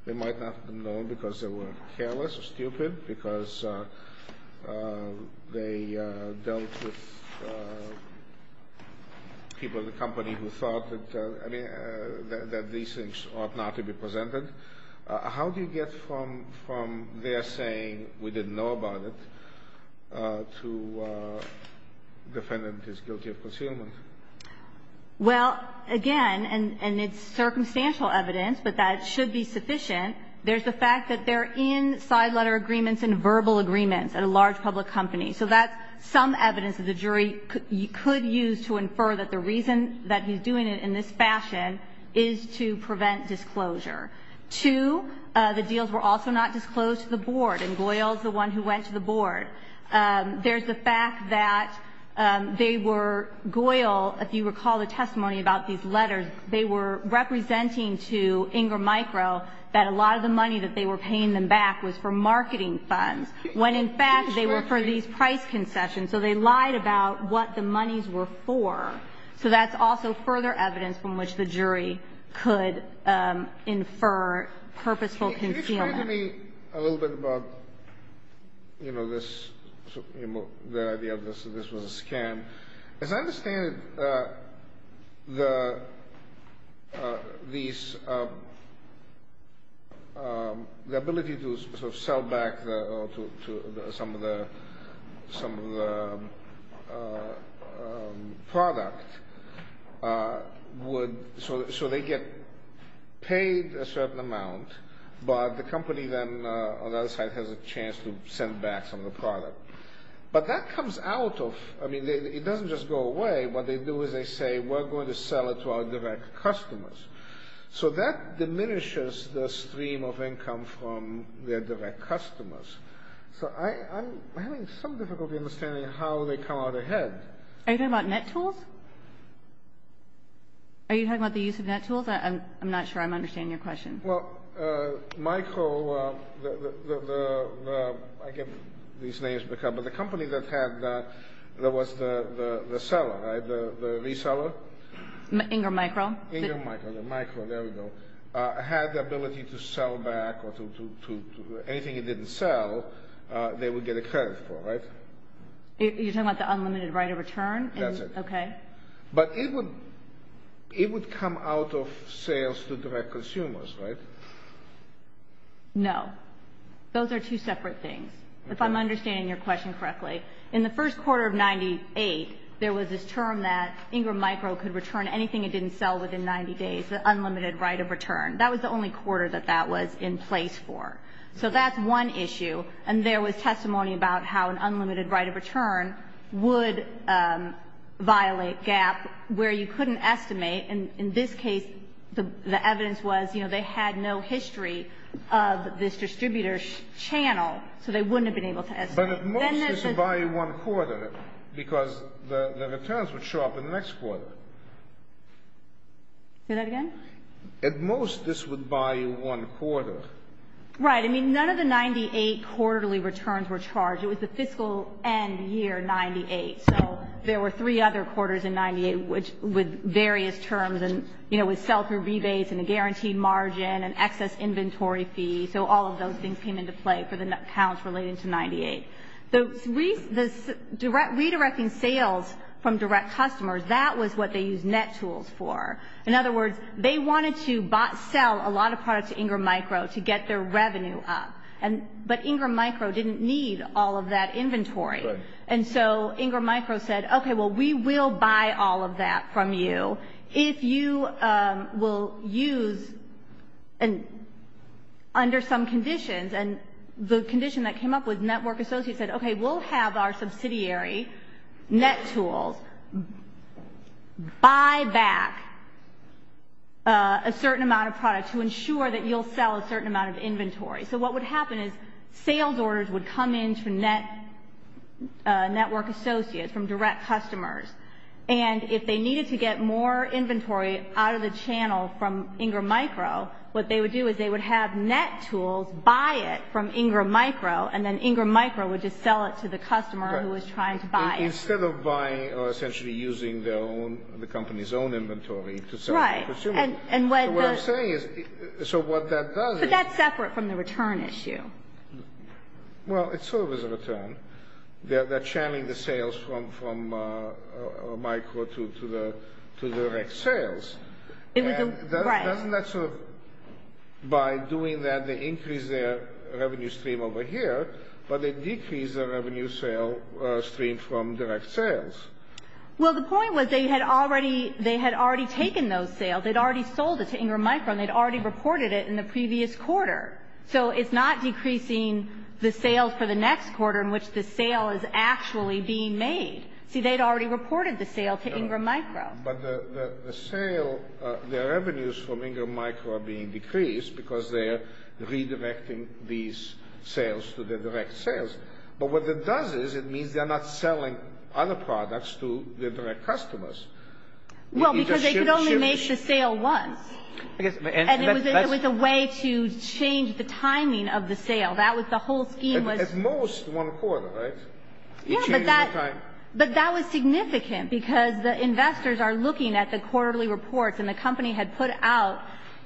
They might not have known because they were careless or stupid, because they dealt with people at the company who thought that these things ought not to be presented. How do you get from their saying we didn't know about it to defendant is guilty of concealment? Well, again, and it's circumstantial evidence that that should be sufficient, there's the fact that they're in side letter agreements and verbal agreements at a large public company. So that's some evidence that the jury could use to infer that the reason that he's doing it in this fashion is to prevent disclosure. Two, the deals were also not disclosed to the board, and Goyle's the one who went to the board. There's the fact that they were, Goyle, if you recall the testimony about these letters, they were representing to Ingram Micro that a lot of the money that they were paying them back was for marketing funds. When, in fact, they were for these price concessions, so they lied about what the monies were for. So that's also further evidence from which the jury could infer purposeful concealment. Can you tell me a little bit about the idea that this was a scam? As I understand it, the ability to sort of sell back some of the product would, so they get paid a certain amount, but the company then on the other side has a chance to send back some of the product. But that comes out of, I mean, it doesn't just go away. What they do is they say, we're going to sell it to our direct customers. So that diminishes the stream of income from their direct customers. So I'm having some difficulty understanding how they come out ahead. Are you talking about NetTools? Are you talking about the use of NetTools? I'm not sure I'm understanding your question. Well, Micro, I get these names, but the company that had that, that was the seller, right, the reseller? Ingram Micro. Ingram Micro, there we go, had the ability to sell back anything it didn't sell, they would get a credit for, right? You're talking about the unlimited right of return? That's it. Okay. But it would come out of sales to direct consumers, right? No. Those are two separate things. If I'm understanding your question correctly, in the first quarter of 98, there was this term that Ingram Micro could return anything it didn't sell within 90 days, the unlimited right of return. That was the only quarter that that was in place for. So that's one issue, and there was testimony about how an unlimited right of return would violate GAAP, where you couldn't estimate, and in this case, the evidence was they had no history of this distributor's channel, so they wouldn't have been able to estimate. But at most, this would buy you one quarter, because the returns would show up in the next quarter. Say that again? At most, this would buy you one quarter. Right. I mean, none of the 98 quarterly returns were charged. It was the fiscal end year 98, so there were three other quarters in 98 with various terms, and, you know, with sell-through rebates and a guaranteed margin and excess inventory fees. So all of those things came into play for the pounds related to 98. So redirecting sales from direct customers, that was what they used NetTools for. In other words, they wanted to sell a lot of products to Ingram Micro to get their revenue up, but Ingram Micro didn't need all of that inventory. Right. And so Ingram Micro said, okay, well, we will buy all of that from you if you will use, and under some conditions, and the condition that came up was Network Associates said, okay, we'll have our subsidiary, NetTools, buy back a certain amount of products to ensure that you'll sell a certain amount of inventory. So what would happen is sales orders would come in to Network Associates from direct customers, and if they needed to get more inventory out of the channel from Ingram Micro, what they would do is they would have NetTools buy it from Ingram Micro, and then Ingram Micro would just sell it to the customer who was trying to buy it. Right. Instead of buying or essentially using the company's own inventory to sell it to consumers. Right. So what I'm saying is, so what that does is... But that's separate from the return issue. Well, it serves as a return. They're channeling the sales from Micro to direct sales. Right. And that's by doing that, they increase their revenue stream over here, but they decrease their revenue stream from direct sales. Well, the point was they had already taken those sales. They'd already sold it to Ingram Micro, and they'd already reported it in the previous quarter. So it's not decreasing the sales to the next quarter in which the sale is actually being made. See, they'd already reported the sale to Ingram Micro. But the revenues from Ingram Micro are being decreased because they're redirecting these sales to their direct sales. But what it does is it means they're not selling other products to their direct customers. Well, because they could only make the sale once. And it was a way to change the timing of the sale. That was the whole theme. At most one quarter, right? Yes, but that was significant because the investors are looking at the quarterly reports, and the company had put out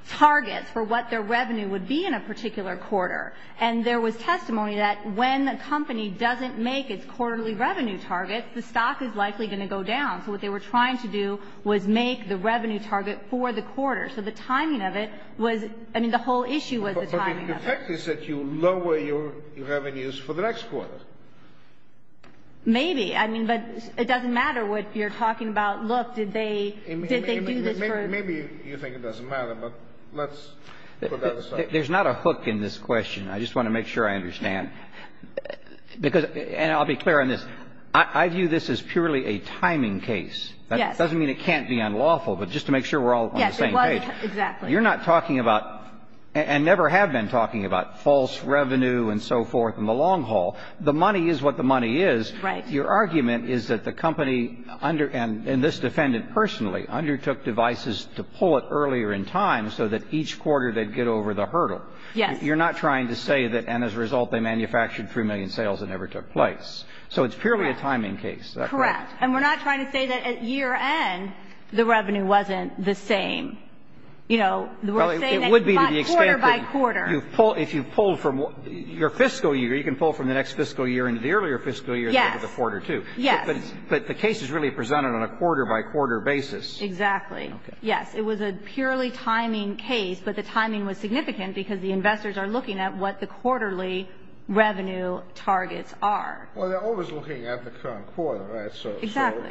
targets for what their revenue would be in a particular quarter. And there was testimony that when a company doesn't make its quarterly revenue target, the stock is likely going to go down. So what they were trying to do was make the revenue target for the quarter. So the timing of it was, I mean, the whole issue was the timing of it. So the effect is that you lower your revenues for the next quarter. Maybe, but it doesn't matter what you're talking about. Look, did they do this for... Maybe you think it doesn't matter, but let's put that aside. There's not a hook in this question. I just want to make sure I understand. And I'll be clear on this. I view this as purely a timing case. That doesn't mean it can't be unlawful, but just to make sure we're all on the same page. Yes, it was, exactly. You're not talking about, and never have been talking about, false revenue and so forth in the long haul. The money is what the money is. Your argument is that the company, and this defendant personally, undertook devices to pull it earlier in time so that each quarter they'd get over the hurdle. You're not trying to say that, and as a result, they manufactured 3 million sales and never took place. So it's purely a timing case. Correct. Yes, and we're not trying to say that at year end, the revenue wasn't the same. You know, we're saying that it's not quarter by quarter. If you pull from your fiscal year, you can pull from the next fiscal year into the earlier fiscal year into the quarter too. Yes. But the case is really presented on a quarter by quarter basis. Exactly. Yes, it was a purely timing case, but the timing was significant because the investors are looking at what the quarterly revenue targets are. Well, they're always looking at the current quarter, right? Exactly.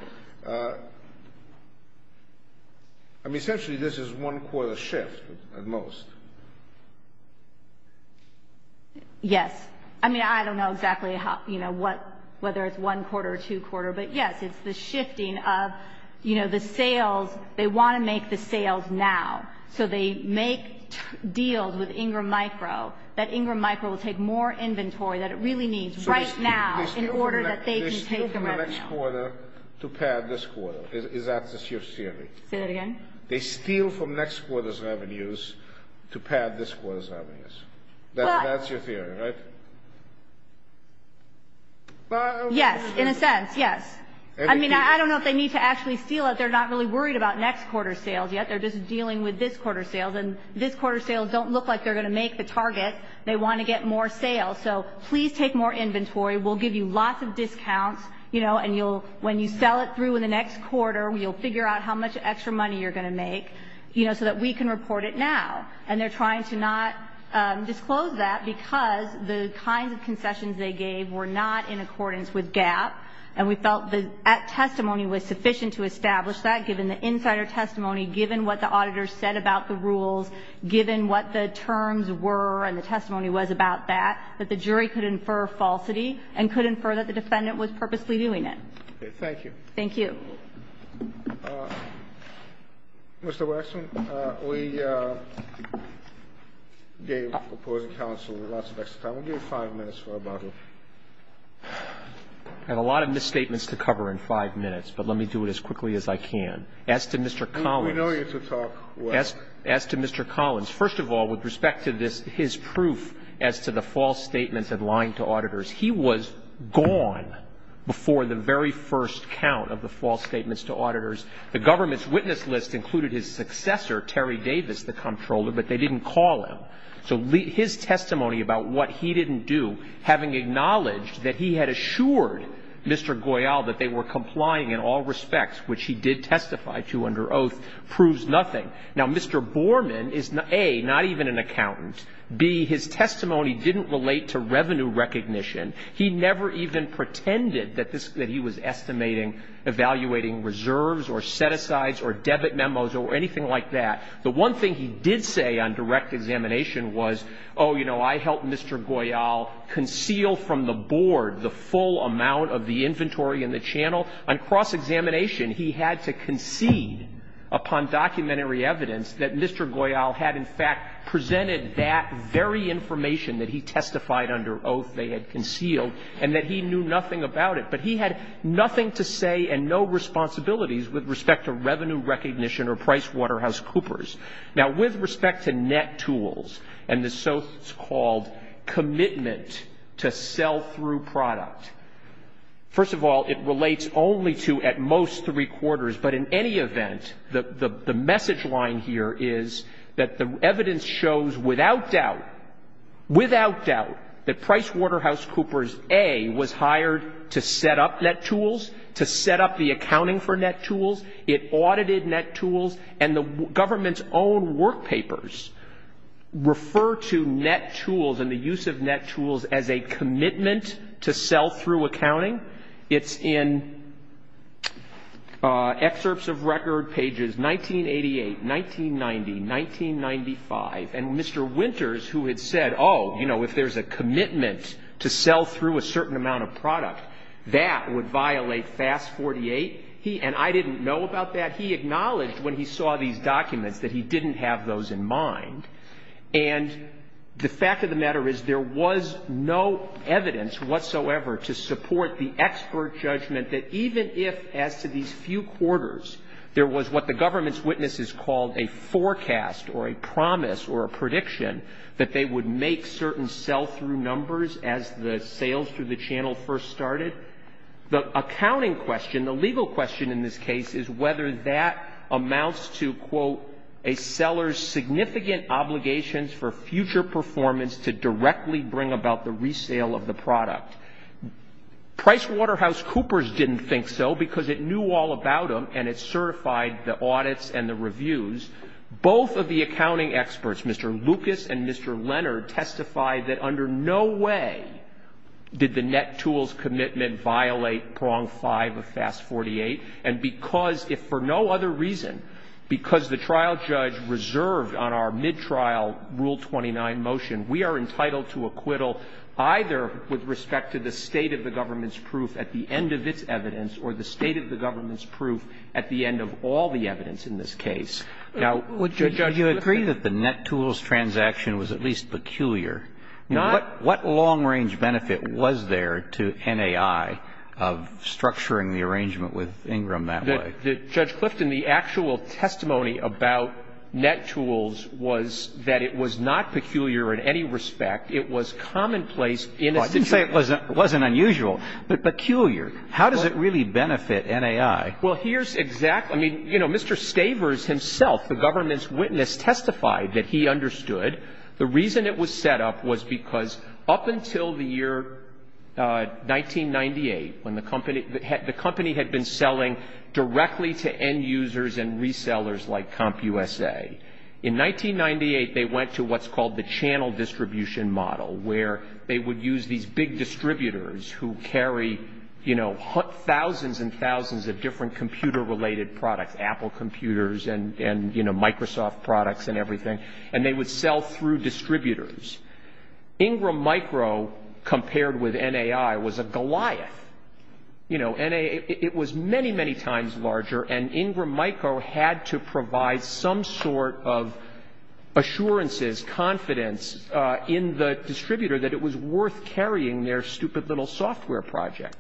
I mean, essentially, this is one quarter shift at most. Yes. I mean, I don't know exactly, you know, whether it's one quarter or two quarter, but, yes, it's the shifting of, you know, the sales. They want to make the sales now, so they make deals with Ingram Micro that Ingram Micro will take more inventory than it really needs right now. They steal from next quarter to pad this quarter. Is that your theory? Say that again? They steal from next quarter's revenues to pad this quarter's revenues. That's your theory, right? Yes, in a sense, yes. I mean, I don't know if they need to actually steal it. They're not really worried about next quarter sales yet. They're just dealing with this quarter's sales, and this quarter's sales don't look like they're going to make the target. They want to get more sales, so please take more inventory. We'll give you lots of discounts, you know, and when you sell it through in the next quarter, we'll figure out how much extra money you're going to make, you know, so that we can report it now. And they're trying to not disclose that because the kinds of confessions they gave were not in accordance with GAAP, and we felt that testimony was sufficient to establish that, given the insider testimony, given what the auditor said about the rules, given what the terms were and the testimony was about that, that the jury could infer falsity and could infer that the defendant was purposely doing it. Okay, thank you. Thank you. Mr. Waxman, we gave the opposing counsel lots of extra time. We'll give you five minutes for about it. I have a lot of misstatements to cover in five minutes, but let me do it as quickly as I can. As to Mr. Collins, as to Mr. Collins, first of all, with respect to his proof as to the false statements and lying to auditors, he was gone before the very first count of the false statements to auditors. The government's witness list included his successor, Terry Davis, the comptroller, but they didn't call him. So his testimony about what he didn't do, having acknowledged that he had assured Mr. Goyal that they were complying in all respects, which he did testify to under oath, proves nothing. Now, Mr. Borman is, A, not even an accountant. B, his testimony didn't relate to revenue recognition. He never even pretended that he was estimating, evaluating reserves or set-asides or debit memos or anything like that. The one thing he did say on direct examination was, oh, you know, I helped Mr. Goyal conceal from the board the full amount of the inventory in the channel. Well, on cross-examination, he had to concede upon documentary evidence that Mr. Goyal had, in fact, presented that very information that he testified under oath they had concealed and that he knew nothing about it. But he had nothing to say and no responsibilities with respect to revenue recognition or PricewaterhouseCoopers. Now, with respect to net tools and the so-called commitment to sell-through product, first of all, it relates only to, at most, three quarters. But in any event, the message line here is that the evidence shows without doubt, without doubt, that PricewaterhouseCoopers, A, was hired to set up net tools, to set up the accounting for net tools. It audited net tools. And the government's own work papers refer to net tools and the use of net tools as a commitment to sell-through accounting. It's in excerpts of record pages 1988, 1990, 1995. And Mr. Winters, who had said, oh, you know, if there's a commitment to sell-through a certain amount of product, that would violate FAS 48. And I didn't know about that. He acknowledged when he saw these documents that he didn't have those in mind. And the fact of the matter is there was no evidence whatsoever to support the expert judgment that even if, as to these few quarters, there was what the government's witnesses called a forecast or a promise or a prediction that they would make certain sell-through numbers as the sales through the channel first started, the accounting question, the legal question in this case, is whether that amounts to, quote, a seller's significant obligations for future performance to directly bring about the resale of the product. PricewaterhouseCoopers didn't think so because it knew all about them and it certified the audits and the reviews. Both of the accounting experts, Mr. Lucas and Mr. Leonard, testified that under no way did the net tools commitment violate prong 5 of FAS 48. And because, if for no other reason, because the trial judge reserved on our mid-trial Rule 29 motion, we are entitled to acquittal either with respect to the state of the government's proof at the end of its evidence or the state of the government's proof at the end of all the evidence in this case. Would you agree that the net tools transaction was at least peculiar? What long-range benefit was there to NAI of structuring the arrangement with Ingram that way? Judge Clifton, the actual testimony about net tools was that it was not peculiar in any respect. It was commonplace in a... I didn't say it wasn't unusual, but peculiar. How does it really benefit NAI? Well, here's exactly... I mean, you know, Mr. Stavers himself, the government's witness, testified that he understood the reason it was set up was because up until the year 1998, when the company had been selling directly to end users and resellers like CompUSA. In 1998, they went to what's called the channel distribution model where they would use these big distributors who carry, you know, thousands and thousands of different computer-related products, Apple computers and, you know, Microsoft products and everything, and they would sell through distributors. Ingram Micro, compared with NAI, was a goliath. You know, it was many, many times larger, and Ingram Micro had to provide some sort of assurances, confidence, in the distributor that it was worth carrying their stupid little software project.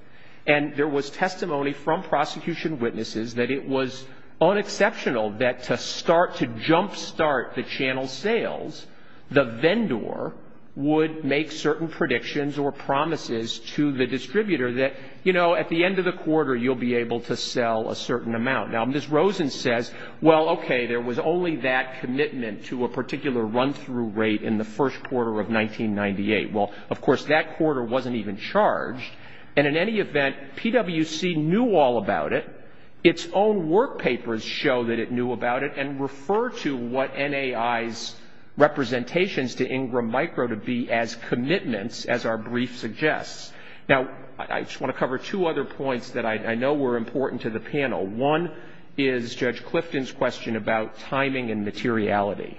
And there was testimony from prosecution witnesses that it was unexceptional that to jump-start the channel sales, the vendor would make certain predictions or promises to the distributor that, you know, at the end of the quarter, you'll be able to sell a certain amount. Now, Ms. Rosen says, well, okay, there was only that commitment to a particular run-through rate in the first quarter of 1998. Well, of course, that quarter wasn't even charged, and in any event, PWC knew all about it. Its own work papers show that it knew about it and refer to what NAI's representations to Ingram Micro to be as commitments, as our brief suggests. Now, I just want to cover two other points that I know were important to the panel. One is Judge Clifton's question about timing and materiality.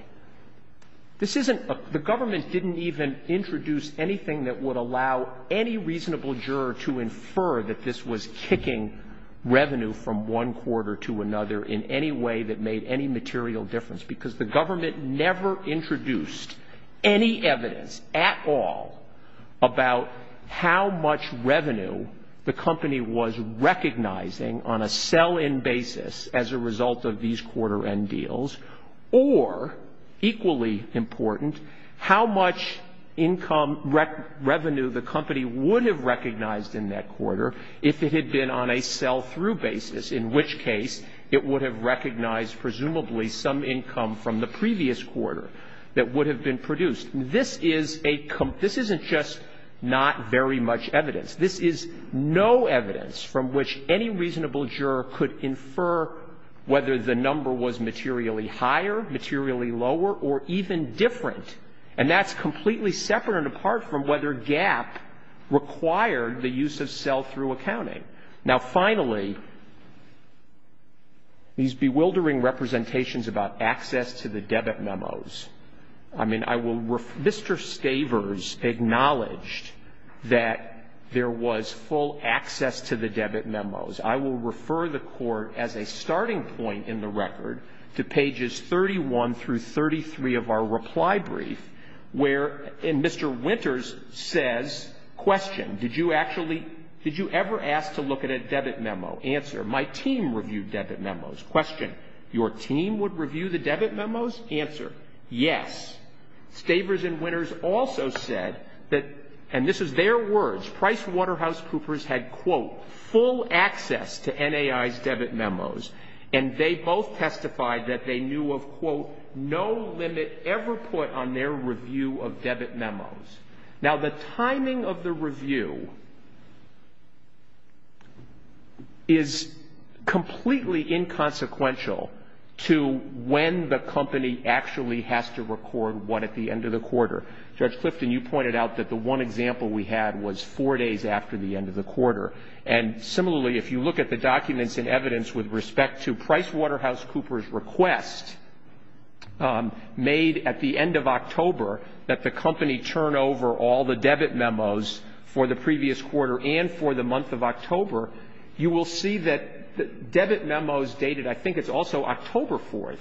The government didn't even introduce anything that would allow any reasonable juror to infer that this was kicking revenue from one quarter to another in any way that made any material difference, because the government never introduced any evidence at all about how much revenue the company was recognizing on a sell-in basis as a result of these quarter-end deals, or, equally important, how much income revenue the company would have recognized in that quarter if it had been on a sell-through basis, in which case it would have recognized presumably some income from the previous quarter that would have been produced. This isn't just not very much evidence. This is no evidence from which any reasonable juror could infer whether the number was materially higher, materially lower, or even different, and that's completely separate and apart from whether GAAP required the use of sell-through accounting. Now, finally, these bewildering representations about access to the debit memos. I mean, Mr. Stavers acknowledged that there was full access to the debit memos. I will refer the court, as a starting point in the record, to pages 31 through 33 of our reply brief, where Mr. Winters says, question, did you ever ask to look at a debit memo? Answer, my team reviewed debit memos. Question, your team would review the debit memos? Answer, yes. Stavers and Winters also said that, and this is their words, PricewaterhouseCoopers had, quote, full access to NAI's debit memos, and they both testified that they knew of, quote, no limit ever put on their review of debit memos. Now, the timing of the review is completely inconsequential to when the company actually has to record what at the end of the quarter. Judge Clifton, you pointed out that the one example we had was four days after the end of the quarter. And similarly, if you look at the documents and evidence with respect to PricewaterhouseCoopers' request, made at the end of October, that the company turn over all the debit memos for the previous quarter and for the month of October, you will see that the debit memos dated, I think it's also October 4th,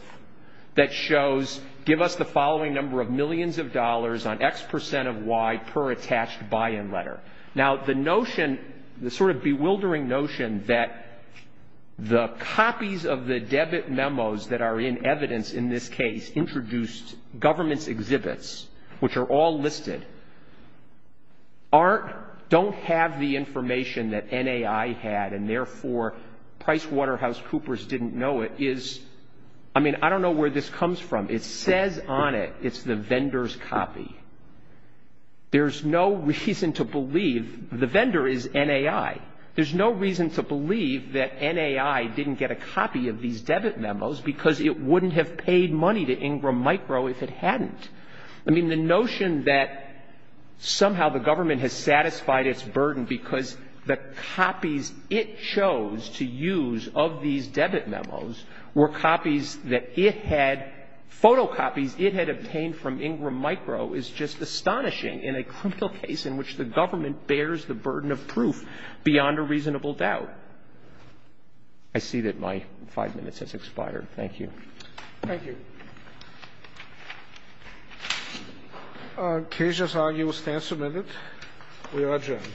that shows give us the following number of millions of dollars on X percent of Y per attached buy-in letter. Now, the notion, the sort of bewildering notion that the copies of the debit memos that are in evidence in this case introduced government exhibits, which are all listed, don't have the information that NAI had, and therefore PricewaterhouseCoopers didn't know it, is, I mean, I don't know where this comes from. It says on it it's the vendor's copy. There's no reason to believe the vendor is NAI. There's no reason to believe that NAI didn't get a copy of these debit memos because it wouldn't have paid money to Ingram Micro if it hadn't. I mean, the notion that somehow the government has satisfied its burden because the copies it chose to use of these debit memos were copies that it had, photocopies it had obtained from Ingram Micro is just astonishing in a criminal case in which the government bears the burden of proof beyond a reasonable doubt. I see that my five minutes has expired. Thank you. Thank you. Our case has now been submitted. We are adjourned.